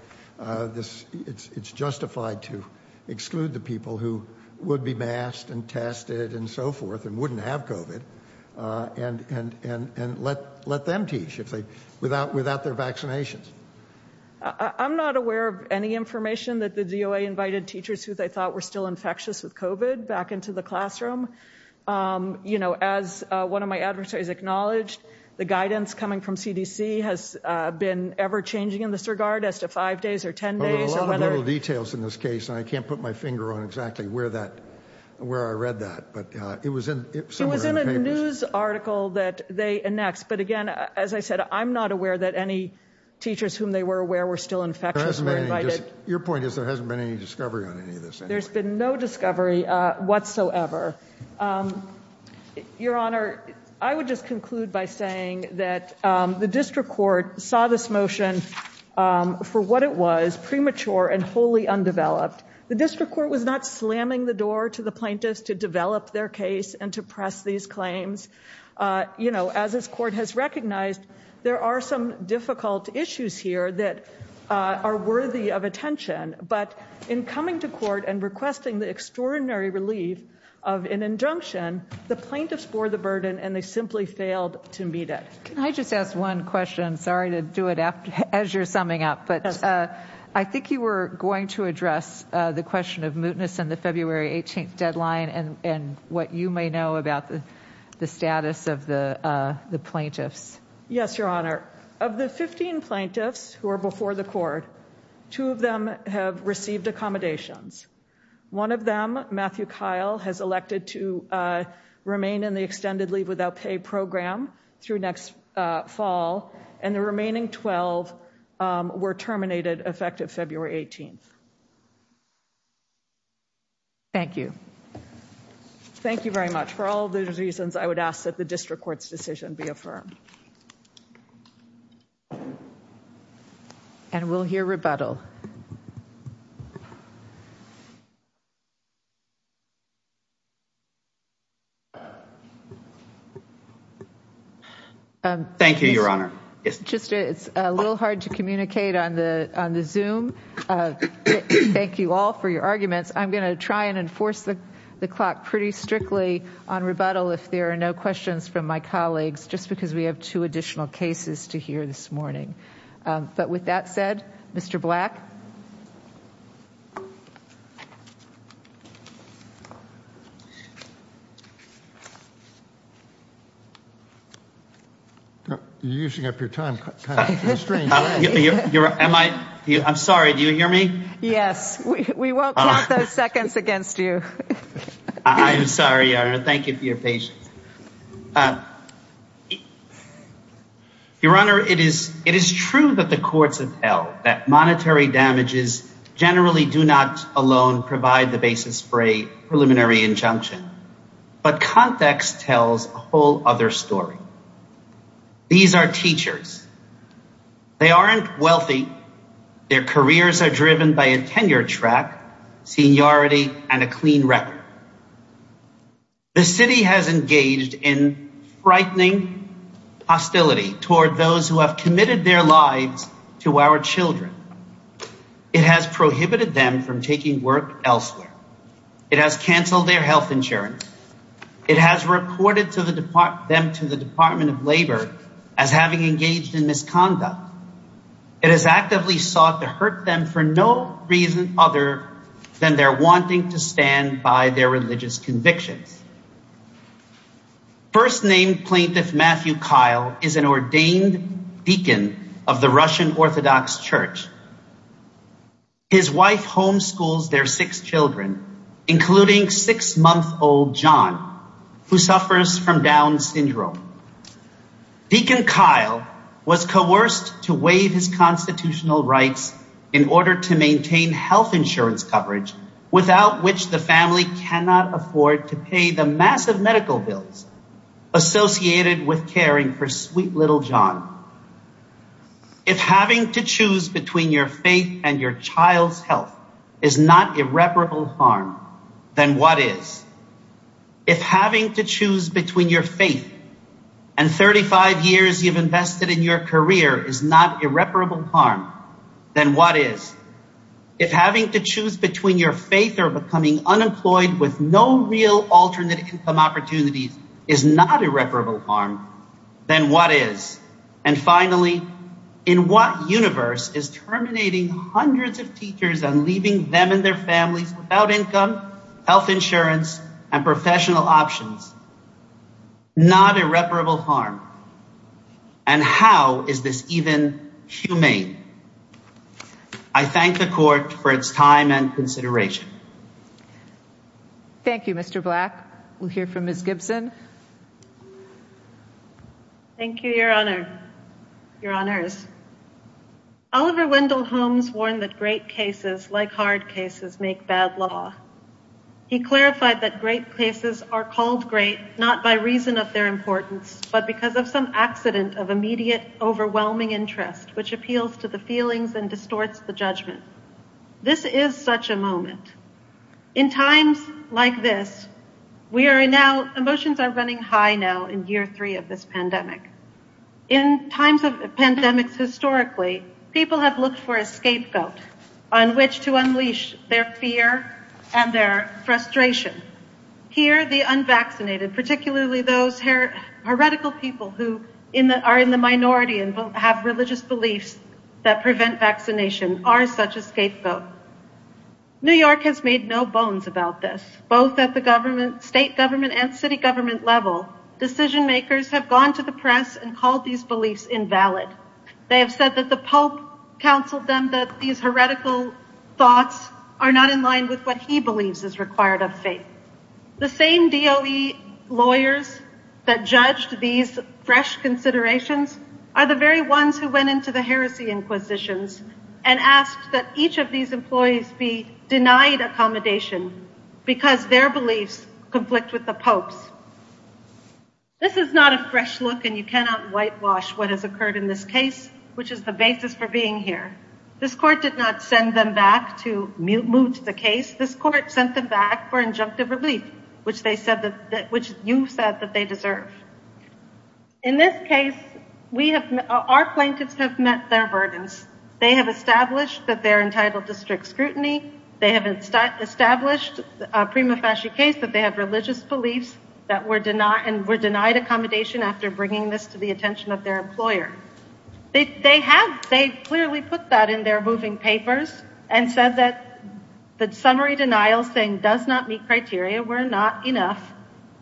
it's justified to exclude the people who would be masked and tested and so forth and wouldn't have COVID and let them teach. Without their vaccinations. I'm not aware of any information that the DOE invited teachers who they thought were still infectious with COVID back into the classroom. You know, as one of my adversaries acknowledged, the guidance coming from CDC has been ever changing in this regard as to five days or 10 days. There are a lot of little details in this case, and I can't put my finger on exactly where I read that, but it was somewhere in the papers. Article that they annex. But again, as I said, I'm not aware that any teachers whom they were aware were still infectious. Your point is there hasn't been any discovery on any of this. There's been no discovery whatsoever. Your Honor, I would just conclude by saying that the district court saw this motion for what it was premature and wholly undeveloped. The district court was not slamming the door to the plaintiffs to develop their case and to press these claims. You know, as this court has recognized, there are some difficult issues here that are worthy of attention. But in coming to court and requesting the extraordinary relief of an injunction, the plaintiffs bore the burden and they simply failed to meet it. Can I just ask one question? Sorry to do it as you're summing up, but I think you were going to address the question of mootness and the February 18th deadline and what you may know about the status of the plaintiffs. Yes, Your Honor. Of the 15 plaintiffs who are before the court, two of them have received accommodations. One of them, Matthew Kyle, has elected to remain in the extended leave without pay program through next fall, and the remaining 12 were terminated effective February 18th. Thank you. Thank you very much. For all those reasons, I would ask that the district court's decision be affirmed. And we'll hear rebuttal. Thank you, Your Honor. It's a little hard to communicate on the Zoom. Thank you all for your arguments. I'm going to try and enforce the clock pretty strictly on rebuttal if there are no questions from my colleagues, just because we have two additional cases to hear this morning. But with that said, Mr. Black? You're using up your time. I'm sorry, do you hear me? Yes, we won't count those seconds against you. I'm sorry, Your Honor. Thank you for your patience. Your Honor, it is true that the courts of hell, that monetary damages generally do not alone provide the basis for a preliminary injunction. But context tells a whole other story. These are teachers. They aren't wealthy. Their careers are driven by a tenure track, seniority, and a clean record. The city has engaged in frightening hostility toward those who have committed their lives to our children. It has prohibited them from taking work elsewhere. It has canceled their health insurance. It has reported them to the Department of Labor as having engaged in misconduct. It has actively sought to hurt them for no reason other than their wanting to stand by their religious convictions. First name plaintiff Matthew Kyle is an ordained deacon of the Russian Orthodox Church. His wife homeschools their six children, including six month old John, who suffers from Down syndrome. Deacon Kyle was coerced to waive his constitutional rights in order to maintain health insurance coverage without which the family cannot afford to pay the massive medical bills associated with caring for sweet little John. If having to choose between your faith and your child's health is not irreparable harm, then what is? If having to choose between your faith and 35 years you've invested in your career is not irreparable harm, then what is? If having to choose between your faith or becoming unemployed with no real alternate opportunities is not irreparable harm, then what is? And finally, in what universe is terminating hundreds of teachers and leaving them and their families without income, health insurance, and professional options not irreparable harm? And how is this even humane? I thank the court for its time and consideration. Thank you, Mr. Black. We'll hear from Miss Gibson. Thank you, Your Honor. Your Honors. Oliver Wendell Holmes warned that great cases like hard cases make bad law. He clarified that great cases are called great not by reason of their importance, but because of some accident of immediate overwhelming interest, which appeals to the feelings and distorts the judgment. This is such a moment. In times like this, emotions are running high now in year three of this pandemic. In times of pandemics historically, people have looked for a scapegoat on which to unleash their fear and their frustration. Here, the unvaccinated, particularly those heretical people who are in the minority and have religious beliefs that prevent vaccination, are such a scapegoat. New York has made no bones about this, both at the state government and city government level. Decision makers have gone to the press and called these beliefs invalid. They have said that the Pope counseled them that these heretical thoughts are not in line with what he believes is required of faith. The same DOE lawyers that judged these fresh considerations are the very ones who went to the heresy inquisitions and asked that each of these employees be denied accommodation because their beliefs conflict with the Pope's. This is not a fresh look and you cannot whitewash what has occurred in this case, which is the basis for being here. This court did not send them back to moot the case. This court sent them back for injunctive relief, which you said that they deserve. In this case, our plaintiffs have met their burdens. They have established that they're entitled to strict scrutiny. They have established a prima facie case that they have religious beliefs and were denied accommodation after bringing this to the attention of their employer. They clearly put that in their moving papers and said that the summary denial saying does not meet criteria were not enough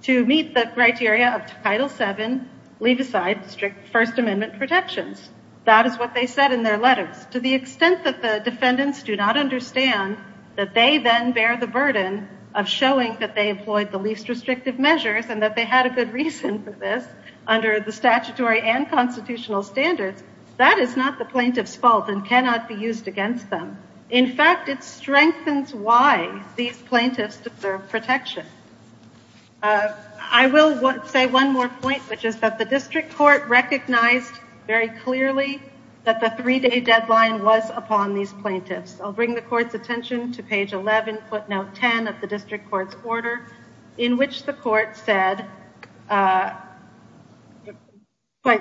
to meet the criteria of Title VII, leave aside strict First Amendment protections. That is what they said in their letters. To the extent that the defendants do not understand that they then bear the burden of showing that they employed the least restrictive measures and that they had a good reason for this under the statutory and constitutional standards, that is not the plaintiff's fault and cannot be used against them. In fact, it strengthens why these plaintiffs deserve protection. I will say one more point, which is that the district court recognized very clearly that the three-day deadline was upon these plaintiffs. I'll bring the court's attention to page 11, footnote 10 of the district court's order, in which the court said quite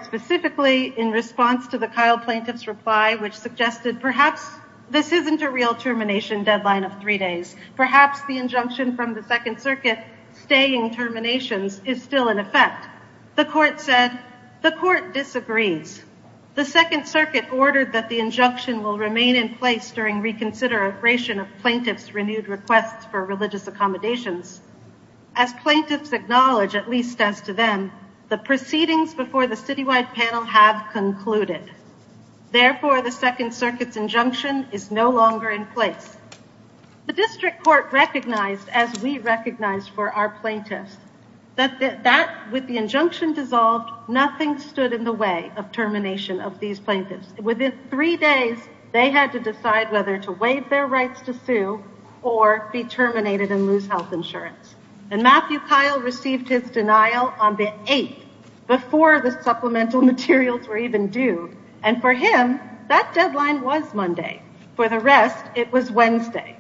specifically in response to the Kyle plaintiff's reply, which suggested perhaps this isn't a real termination deadline of three days. Perhaps the injunction from the Second Circuit staying terminations is still in effect. The court said, the court disagrees. The Second Circuit ordered that the injunction will remain in place during reconsideration of plaintiff's renewed requests for religious accommodations. As plaintiffs acknowledge, at least as to them, the proceedings before the citywide panel have concluded. Therefore, the Second Circuit's injunction is no longer in place. The district court recognized, as we recognize for our plaintiffs, that with the injunction dissolved, nothing stood in the way of termination of these plaintiffs. Within three days, they had to decide whether to waive their rights to sue or be terminated and lose health insurance. And Matthew Kyle received his denial on the 8th, before the supplemental materials were due. And for him, that deadline was Monday. For the rest, it was Wednesday.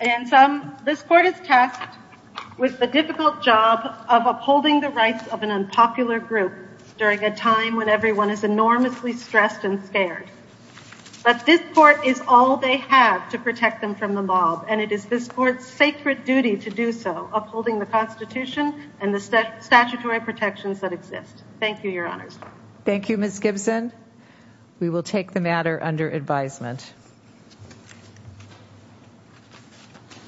And so this court is tasked with the difficult job of upholding the rights of an unpopular group during a time when everyone is enormously stressed and scared. But this court is all they have to protect them from the mob. And it is this court's sacred duty to do so, upholding the Constitution and the statutory protections that exist. Thank you, Your Honors. Thank you, Ms. Gibson. We will take the matter under advisement.